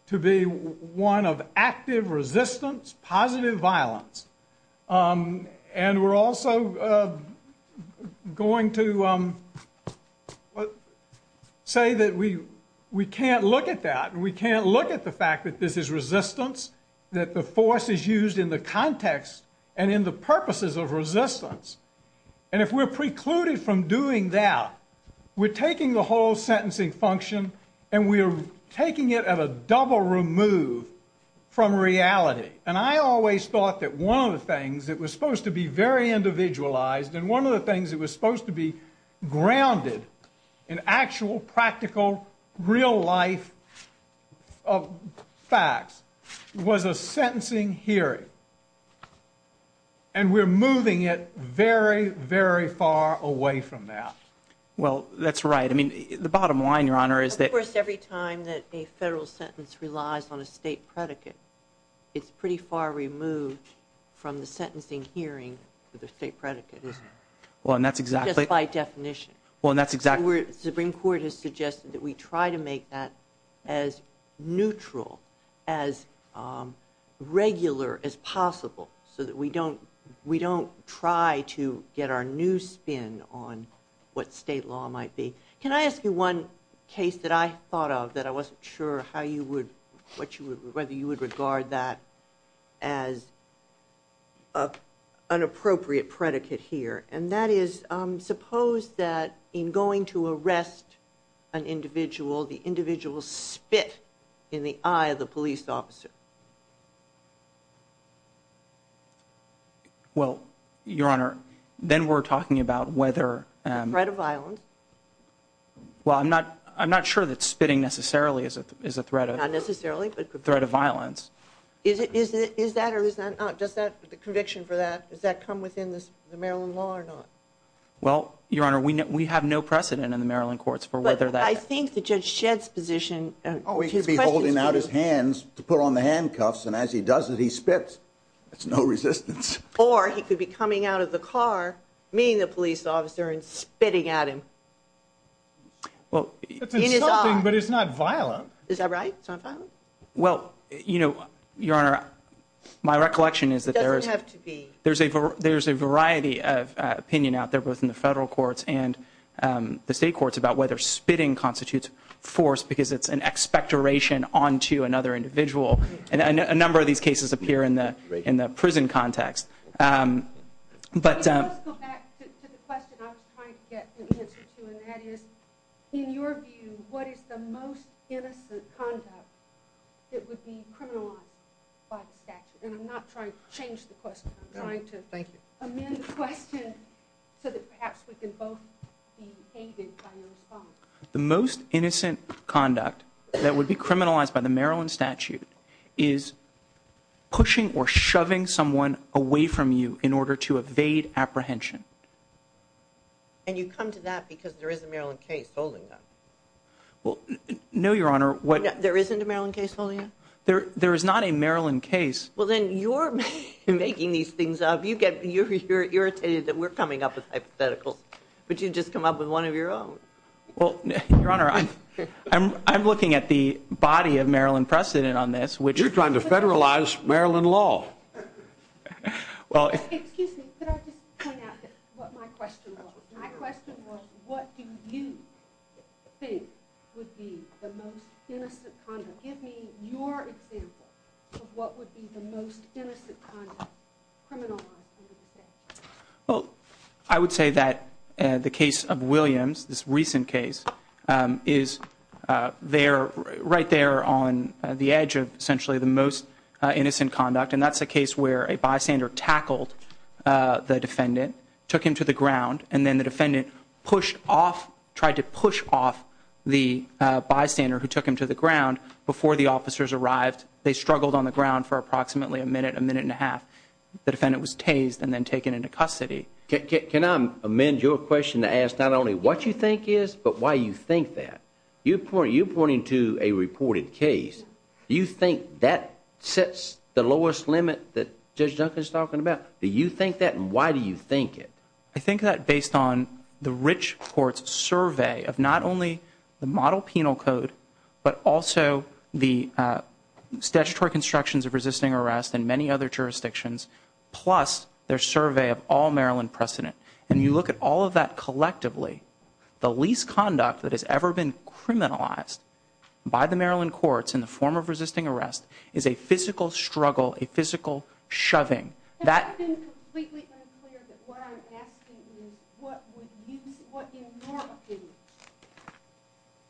to be one of active resistance, positive violence. And we're also going to say that we can't look at that, we can't look at the fact that this is resistance, that the force is used in the context and in the purposes of resistance. And if we're precluded from doing that, we're taking the whole sentencing function and we're taking it at a double remove from reality. And I always thought that one of the things that was supposed to be very individualized and one of the things that was supposed to be grounded in actual, practical, real life facts was a sentencing hearing. And we're moving it very, very far away from that. Well, that's right. I mean, the bottom line, Your Honor, is that... Of course, every time that a federal sentence relies on a state predicate, it's pretty far removed from the sentencing hearing to the state predicate. Well, and that's exactly... Just by definition. Well, and that's exactly... The Supreme Court has suggested that we try to make that as neutral, as regular as possible, so that we don't try to get our new spin on what state law might be. Can I ask you one case that I thought of that I wasn't sure how you would... whether you would regard that as an appropriate predicate here? And that is, suppose that in going to arrest an individual, the individual spit in the eye of the police officer. Well, Your Honor, then we're talking about whether... Well, I'm not... I'm not sure that spitting necessarily is a threat of... Not necessarily, but... ...threat of violence. Is that or is that not? Does that... The conviction for that, does that come within the Maryland law or not? Well, Your Honor, we have no precedent in the Maryland courts for whether that... But I think the Judge Shedd's position... Oh, he could be holding out his hands to put on the handcuffs, and as he does it, he spits. There's no resistance. Or he could be coming out of the car, meeting the police officer, and spitting at him. Well... It's insulting, but it's not violent. Is that right? It's not violent? Well, you know, Your Honor, my recollection is that there is... It doesn't have to be. There's a variety of opinion out there, both in the federal courts and the state courts, about whether spitting constitutes force because it's an expectoration onto another individual. And a number of these cases appear in the prison context. But... Let's go back to the question I was trying to get the answer to, and that is, in your view, what is the most innocent conduct that would be criminalized by the statute? And I'm not trying to change the question. I'm trying to amend the question so that perhaps we can both be aided by the response. The most innocent conduct that would be criminalized by the Maryland statute is pushing or shoving someone away from you in order to evade apprehension. And you come to that because there is a Maryland case holding that? Well, no, Your Honor. There isn't a Maryland case holding that? There is not a Maryland case. Well, then you're making these things up. You're irritated that we're coming up with hypotheticals, but you just come up with one of your own. Well, Your Honor, I'm looking at the body of Maryland precedent on this, which... You're trying to federalize Maryland law. Well... Excuse me, could I just point out what my question was? My question was, what do you think would be the most innocent conduct? Give me your example of what would be the most innocent conduct criminalized in this case. Well, I would say that the case of Williams, this recent case, is right there on the edge of essentially the most innocent conduct, and that's a case where a bystander tackled the defendant, took him to the ground, and then the defendant tried to push off the bystander who took him to the ground before the officers arrived. They struggled on the ground for approximately a minute, a minute and a half. The defendant was tased and then taken into custody. Can I amend your question to ask not only what you think is, but why you think that? You're pointing to a reported case. Do you think that sets the lowest limit that Judge Duncan's talking about? Do you think that, and why do you think it? I think that based on the rich court's survey of not only the model penal code, but also the statutory constructions of resisting arrest and many other jurisdictions, plus their survey of all Maryland precedent. When you look at all of that collectively, the least conduct that has ever been criminalized by the Maryland courts in the form of resisting arrest is a physical struggle, a physical shoving. That's been completely unclear. What I'm asking is what would you, what in your opinion,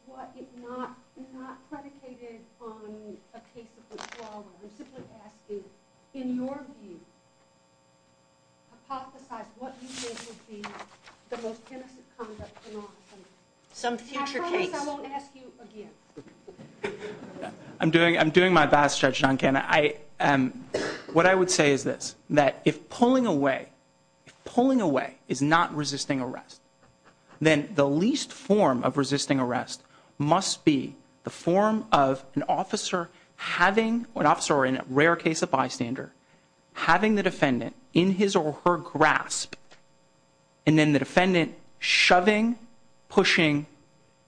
was it not predicated on a case of withdrawal or resistance attitude, in your view, hypothesize what you think would be the most sensitive conduct in all the cases? Some future case. I'm doing my best, Judge Duncan. What I would say is this, that if pulling away is not resisting arrest, then the least form of resisting arrest must be the form of an officer having, an officer in a rare case of bystander, having the defendant in his or her grasp, and then the defendant shoving, pushing,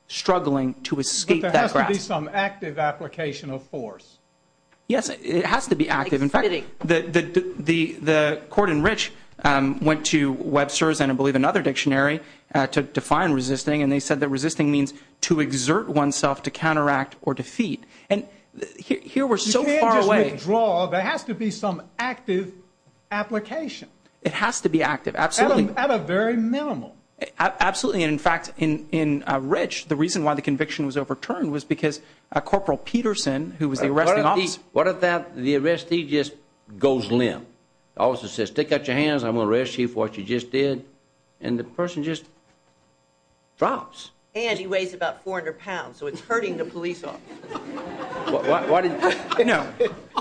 struggling to escape that grasp. But there has to be some active application of force. Yes, it has to be active. In fact, the court in Rich went to Webster's, I believe, another dictionary to define resisting, and they said that resisting means to exert oneself to counteract or defeat. And here we're so far away. There has to be some active application. It has to be active, absolutely. At a very minimal. Absolutely. In fact, in Rich, the reason why the conviction was overturned was because Corporal Peterson, who was the arresting officer... What if the arrestee just goes limp? The officer says, stick out your hands, I'm going to arrest you for what you just did, and the person just drops. And he weighs about 400 pounds, so it's hurting the police officer. No.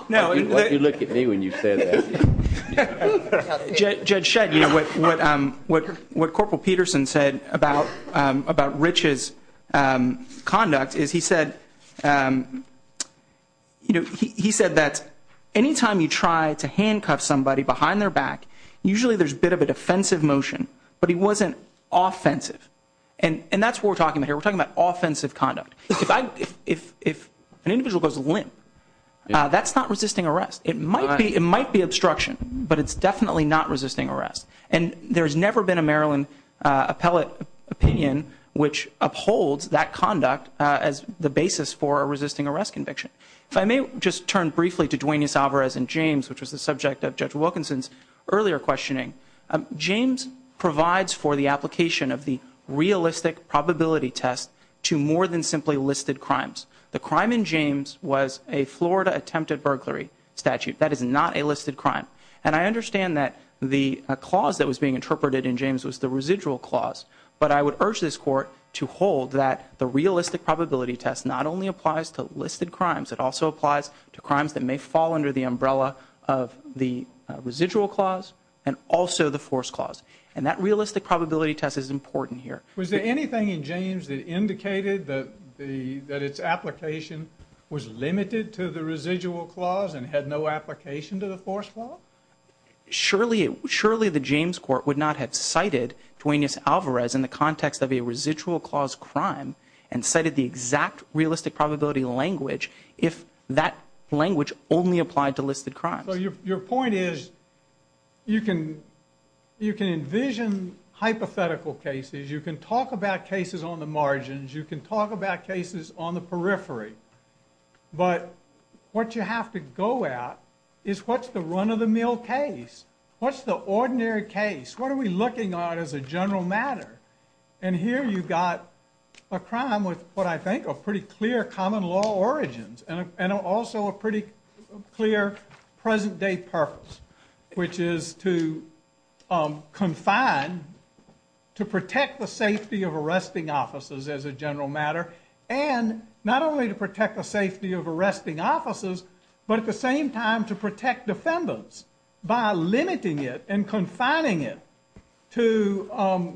Why did you look at me when you said that? Judge Shedd, what Corporal Peterson said about Rich's conduct is he said that anytime you try to handcuff somebody behind their back, usually there's a bit of a defensive motion, but he wasn't offensive. And that's what we're talking about here. We're talking about offensive conduct. If an individual goes limp, that's not resisting arrest. It might be obstruction, but it's definitely not resisting arrest. And there's never been a Maryland appellate opinion which upholds that conduct as the basis for a resisting arrest conviction. If I may just turn briefly to Duane Ysavarez and James, which was the subject of Judge Wilkinson's earlier questioning, James provides for the application of the realistic probability test to more than simply listed crimes. The crime in James was a Florida attempted burglary statute. That is not a listed crime. And I understand that the clause that was being interpreted in James was the residual clause, but I would urge this Court to hold that the realistic probability test not only applies to listed crimes, it also applies to crimes that may fall under the umbrella of the residual clause and also the force clause. And that realistic probability test is important here. Was there anything in James that indicated that its application was limited to the residual clause and had no application to the force clause? Surely the James Court would not have cited Duane Ysavarez in the context of a residual clause crime and cited the exact realistic probability language if that language only applied to listed crimes. Your point is you can envision hypothetical cases, you can talk about cases on the margins, you can talk about cases on the periphery, but what you have to go at is what's the run-of-the-mill case? What's the ordinary case? What are we looking at as a general matter? And here you've got a crime with what I think are pretty clear common law origins and also a pretty clear present-day purpose, which is to confine, to protect the safety of arresting officers as a general matter, and not only to protect the safety of arresting officers, but at the same time to protect defendants by limiting it and confining it to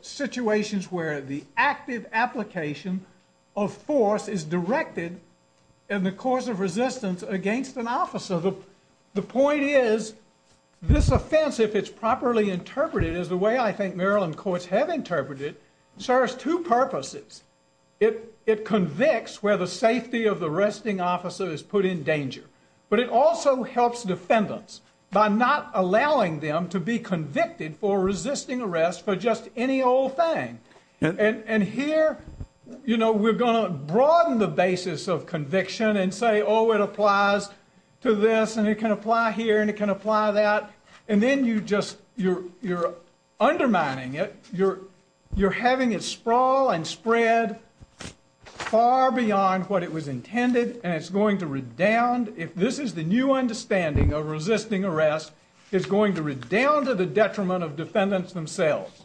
situations where the active application of force is directed in the course of resistance against an officer. So the point is this offense, if it's properly interpreted, is the way I think Maryland courts have interpreted it, serves two purposes. It convicts where the safety of the arresting officer is put in danger, but it also helps defendants by not allowing them to be convicted for resisting arrest for just any old thing. And here, you know, we're going to broaden the basis of conviction and say, oh, it applies to this, and it can apply here, and it can apply that. And then you just, you're undermining it. You're having it sprawl and spread far beyond what it was intended, and it's going to redound. If this is the new understanding of resisting arrest, it's going to redound to the detriment of defendants themselves.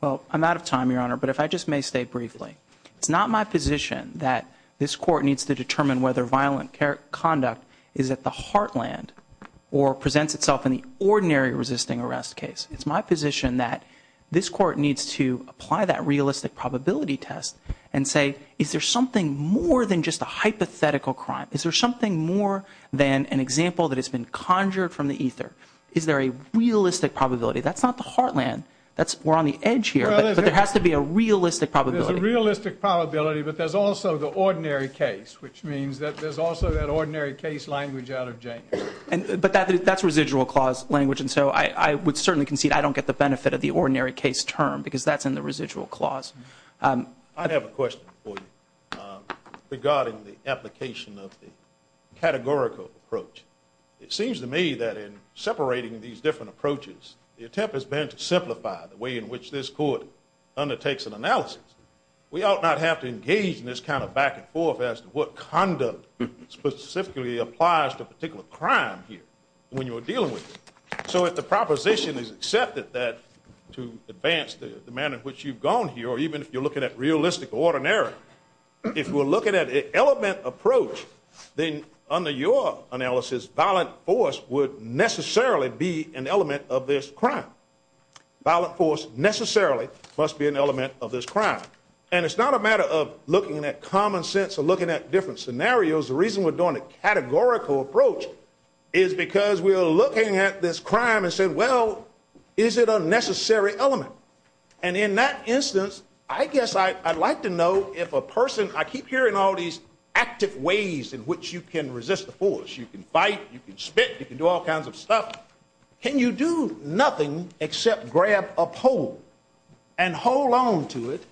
Well, I'm out of time, Your Honor, but if I just may state briefly, it's not my position that this court needs to determine whether violent conduct is at the heartland or presents itself in the ordinary resisting arrest case. It's my position that this court needs to apply that realistic probability test and say, is there something more than just a hypothetical crime? Is there something more than an example that has been conjured from the ether? Is there a realistic probability? That's not the heartland. We're on the edge here, but there has to be a realistic probability. There's a realistic probability, but there's also the ordinary case, which means that there's also that ordinary case language out of Jacob. But that's residual clause language, and so I would certainly concede I don't get the benefit of the ordinary case term because that's in the residual clause. I have a question for you regarding the application of the categorical approach. It seems to me that in separating these different approaches, the attempt has been to simplify the way in which this court undertakes an analysis. We ought not have to engage in this kind of back-and-forth as to what conduct specifically applies to a particular crime here when you're dealing with it. So if the proposition is accepted that to advance the manner in which you've gone here, or even if you're looking at realistic or ordinary, if we're looking at an element approach, then under your analysis, violent force would necessarily be an element of this crime. Violent force necessarily must be an element of this crime. And it's not a matter of looking at common sense or looking at different scenarios. The reason we're doing a categorical approach is because we're looking at this crime and saying, well, is it a necessary element? And in that instance, I guess I'd like to know if a person, I keep hearing all these active ways in which you can resist the force. You can fight, you can spit, you can do all kinds of stuff. Can you do nothing except grab a pole and hold on to it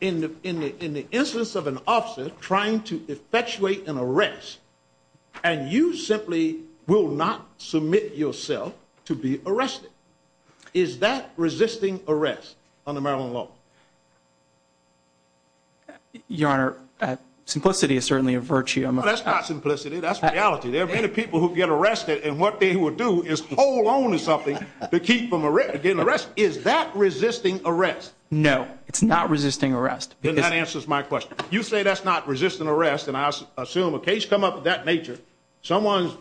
in the instance of an officer trying to effectuate an arrest and you simply will not submit yourself to be arrested? Is that resisting arrest on the Maryland law? Your Honor, simplicity is certainly a virtue. That's not simplicity, that's reality. There are many people who get arrested and what they will do is hold on to something to keep from getting arrested. Is that resisting arrest? No, it's not resisting arrest. Then that answers my question. You say that's not resisting arrest and I assume a case come up of that nature, someone's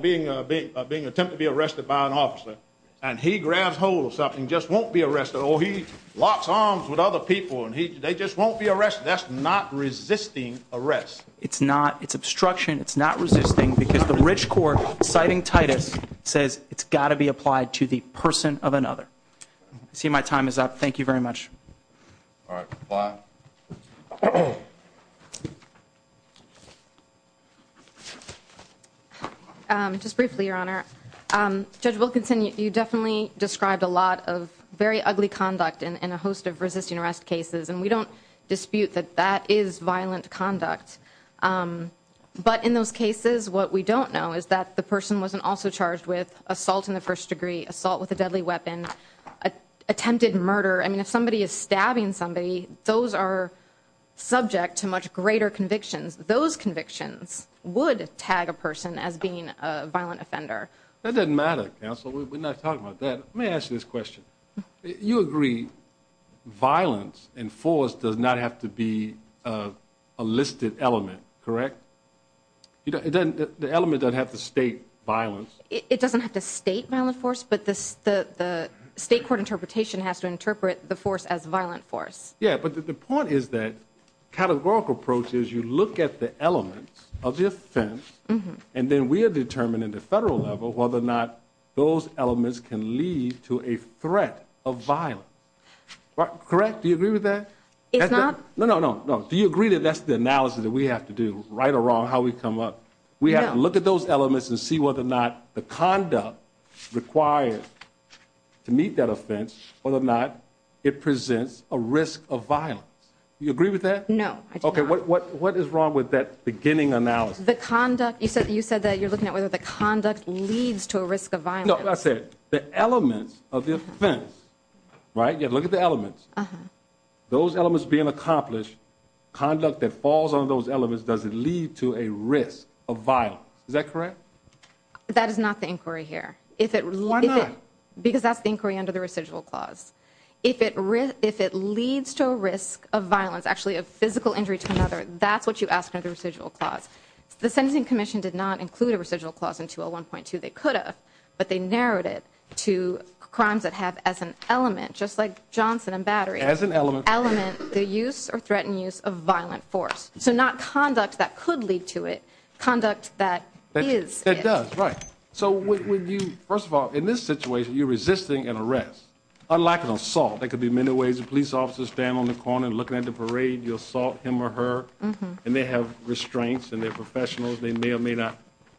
being attempted to be arrested by an officer and he grabs hold of something and just won't be arrested, or he locks arms with other people and they just won't be arrested. That's not resisting arrest. It's not. It's obstruction. It's not resisting because the Rich Court citing Titus says it's got to be applied to the person of another. I see my time is up. Thank you very much. Just briefly, Your Honor. Judge Wilkinson, you definitely described a lot of very ugly conduct in a host of resisting arrest cases and we don't dispute that that is violent conduct. But in those cases, what we don't know is that the person wasn't also charged with assault in the first degree, assault with a deadly weapon, attempted murder. If somebody is stabbing somebody, those are subject to much greater convictions. Those convictions would tag a person as being a violent offender. That doesn't matter, counsel. We're not talking about that. Let me ask you this question. You agree violence and force does not have to be a listed element, correct? The element doesn't have to state violence. It doesn't have to state violent force, but the state court interpretation has to interpret the force as violent force. Yeah, but the point is that categorical process, you look at the elements of the offense and then we are determining at the federal level whether or not those elements present a risk of violence. Correct? Do you agree with that? Do you agree that that's the analogy that we have to do, right or wrong, how we come up? We have to look at those elements and see whether or not the conduct requires to meet that offense, whether or not it presents a risk of violence. Do you agree with that? No. What is wrong with that beginning analogy? You said that you're looking at whether the conduct leads to a risk of violence. No, that's it. The element of the offense, right? Look at the elements. Those elements being accomplished, conduct that falls on those elements, does it lead to a risk of violence? Is that correct? That is not the inquiry here. Why not? Because that's the inquiry under the residual clause. If it leads to a risk of violence, actually a physical injury to another, that's what you ask under the residual clause. The Sentencing Commission did not include a residual clause in 201.2. They could have, but they narrowed it to crimes that have as an element, just like Johnson and Battery, the use or threatened use of violent force. So not conduct that could lead to it, conduct that is. It does, right. First of all, in this situation, you're resisting an arrest. Unlike an assault, there could be many ways a police officer is standing on the corner and looking at the parade, you assault him or her, and they have restraints and they're professionals, they may or may not.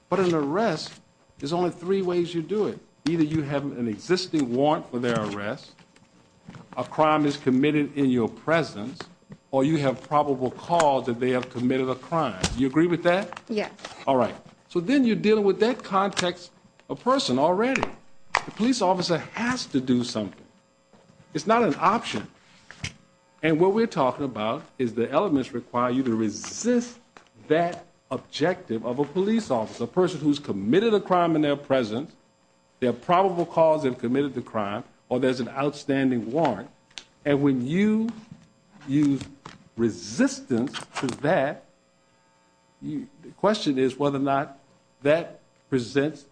But an arrest, there's only three ways you do it. Either you have an existing warrant for their arrest, a crime is committed in your presence, or you have probable cause that they have committed a crime. Do you agree with that? Yes. So then you're dealing with that context a person already. The police officer has to do something. It's not an option. And what we're talking about is the elements require you to resist that objective of a police officer, a person who's committed a crime in their presence, they have probable cause and committed the crime, or there's an outstanding warrant. And when you use resistance to that, the question is whether or not that presents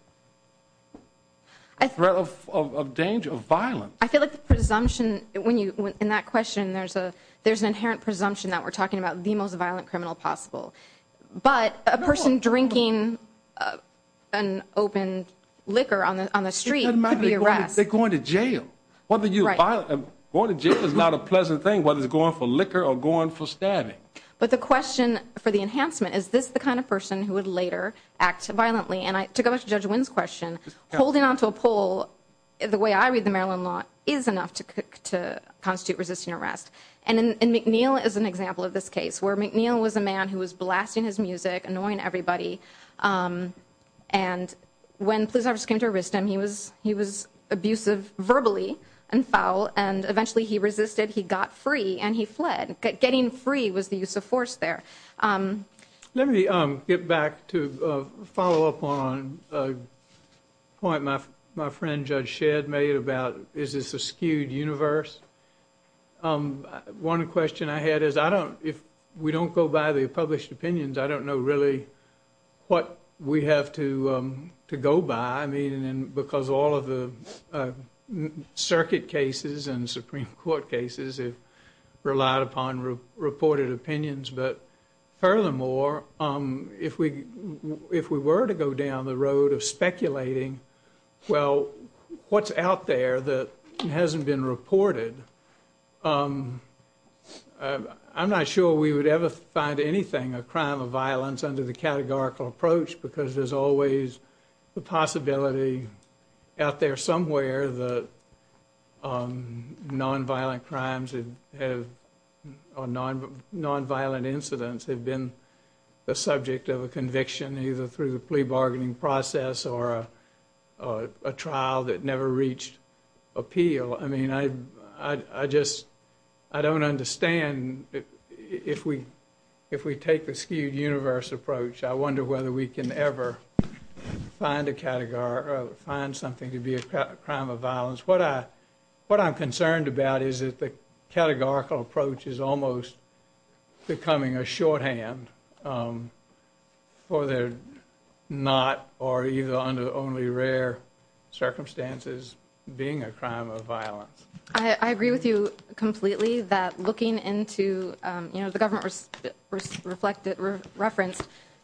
a threat of danger, of violence. I feel like in that question there's an inherent presumption that we're talking about the most violent criminal possible. But a person drinking open liquor on the street could be arrested. They're going to jail. Going to jail is not a pleasant thing, whether they're going for liquor or going for stabbing. But the question for the enhancement, is this the kind of person who would later act violently? And to go back to Judge Wynn's question, holding on to a pole the way I read the Maryland law is enough to constitute resisting arrest. And McNeil is an example of this case, where McNeil was a man who was blasting his music, annoying everybody, and when police officers came to arrest him, he was abusive verbally and foul, and eventually he resisted, he got free, and he fled. Getting free was the use of force there. Let me get back to follow up on a point my friend Judge Shedd made about is this a skewed universe? One question I had is, if we don't go by the published opinions, I don't know really what we have to go by, because all of the circuit cases and Supreme Court cases have relied upon reported opinions. But furthermore, if we were to go down the road of speculating well, what's out there that hasn't been reported, I'm not sure we would ever find anything a crime of violence under the categorical approach, because there's always the possibility out there somewhere that non-violent crimes or non-violent incidents have been the subject of a conviction either through the plea bargaining process or a trial that never reached appeal. I mean, I just don't understand if we take the skewed universe approach, I wonder whether we can ever find a category or find something to be a crime of violence. What I'm concerned about is that the categorical approach is almost becoming a shorthand for the not or either under only rare circumstances being a crime of violence. I agree with you completely that looking into, you know, the government reference,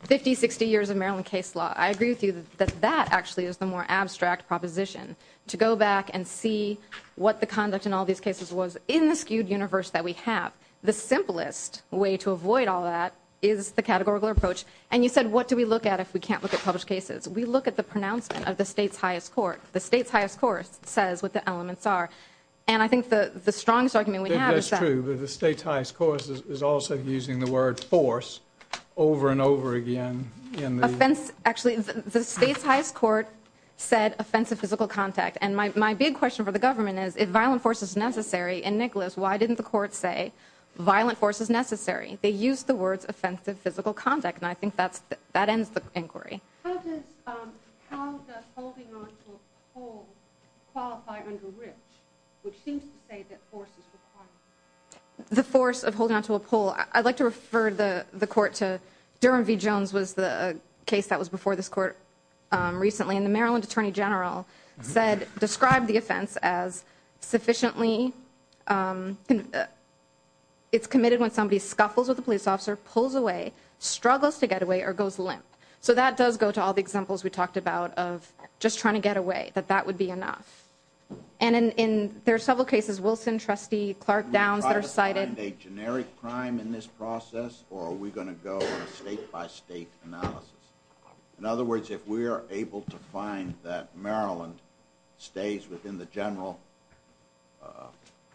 50, 60 years of Maryland case law, I agree with you that that actually is the more abstract proposition. To go back and see what the conduct in all these cases was in the skewed universe that we have, the simplest way to avoid all of that is the categorical approach. And you said, what do we look at if we can't look at published cases? We look at the pronouncement of the state's highest court. The state's highest court says what the elements are. And I think the strongest argument we have is that... The state's highest court is also using the word force over and over again. Actually, the state's highest court said offense of physical contact. And my big question for the government is, is violent force necessary? And Nicholas, why didn't the court say violent force was necessary? They used the words offensive physical contact. And I think that ends the inquiry. How does holding onto a pole qualify under which? Which seems to say that force is required. The force of holding onto a pole. I'd like to refer the court to Durham v. Jones was the case that was before this court recently. And the Maryland Attorney General described the offense as sufficiently... It's committed when somebody scuffles with a police officer, pulls away, struggles to get away, or goes limp. So that does go to all the examples we talked about of just trying to get away. That that would be enough. And in several cases, Wilson, Trustee Clark, Downs are cited... ...in this process, or are we going to go state by state analysis? In other words, if we are able to find that Maryland stays within the general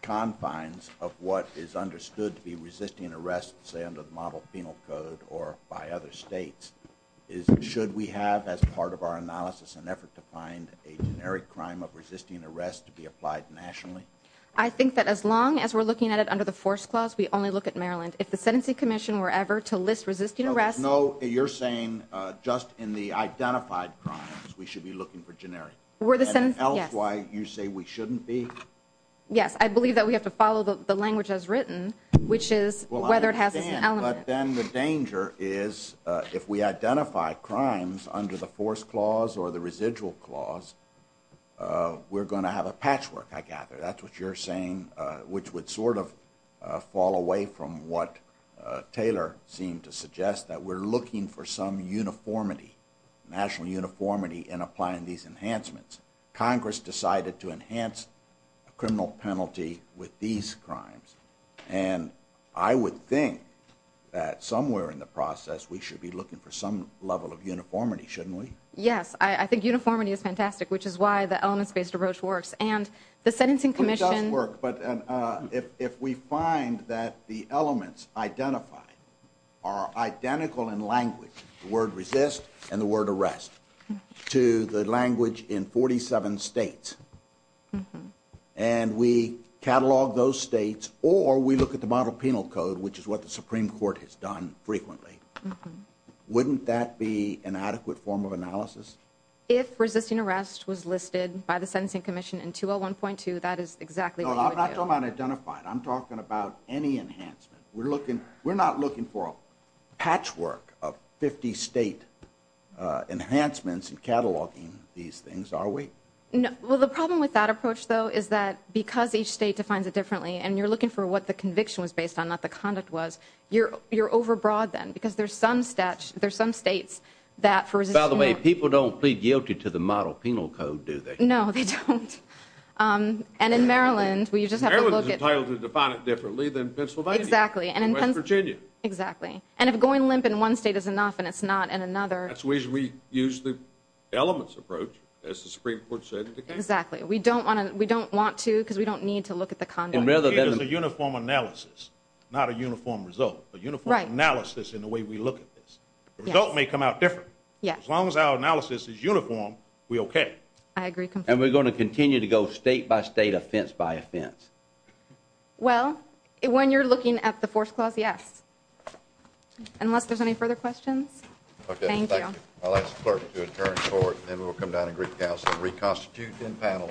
confines of what is understood to be resisting arrest, say under the Model Penal Code or by other states, should we have as part of our analysis an effort to find a generic crime of resisting arrest to be applied nationally? I think that as long as we're looking at it under the force clause, we only look at Maryland. If the sentencing commission were ever to list resisting arrest... No, you're saying just in the identified crimes, we should be looking for generic. Were the sentencing... And else why you say we shouldn't be? Yes, I believe that we have to follow the language as written, which is whether it has an element. But then the danger is if we identify crimes under the force clause or the residual clause, we're going to have a patchwork, I gather. That's what you're saying, which would sort of fall away from what Taylor seemed to suggest, that we're looking for some uniformity, national uniformity in applying these enhancements. Congress decided to enhance criminal penalty with these crimes. And I would think that somewhere in the process, we should be looking for some level of uniformity, shouldn't we? Yes, I think uniformity is fantastic, which is why the elements based approach works. And the sentencing commission... It does work, but if we find that the elements identified are identical in language, the word resist and the word arrest, to the language in 47 states, and we catalog those states, or we look at the model penal code, which is what the Supreme Court has done frequently, wouldn't that be an adequate form of analysis? If resisting arrest was listed by the sentencing commission in 201.2, that is exactly what... No, I'm not talking about identifying. I'm talking about any enhancement. We're not looking for a patchwork of 50 state enhancements and cataloging these things, are we? Well, the problem with that approach, though, is that because each state defines it differently and you're looking for what the conviction was based on, not what the conduct was, you're overbroad then, because there's some states that... By the way, people don't plead guilty to the model penal code, do they? No, they don't. And in Maryland, Maryland is entitled to define it differently than Pennsylvania. Exactly. And West Virginia. Exactly. And if going limp in one state is enough and it's not in another... That's the reason we used the elements approach, as the Supreme Court said. Exactly. We don't want to, because we don't need to look at the conduct. It's a uniform analysis, not a uniform result. A uniform analysis in the way we look at this. The result may come out different. As long as our analysis is uniform, we're okay. I agree completely. And we're going to continue to go state-by-state, offense-by- offense. Well, when you're looking at the Fourth Clause, yes. Unless there's any further questions? Okay. Thank you. I'll ask the clerk to adjourn and then we'll come down and reconstitute in-panel.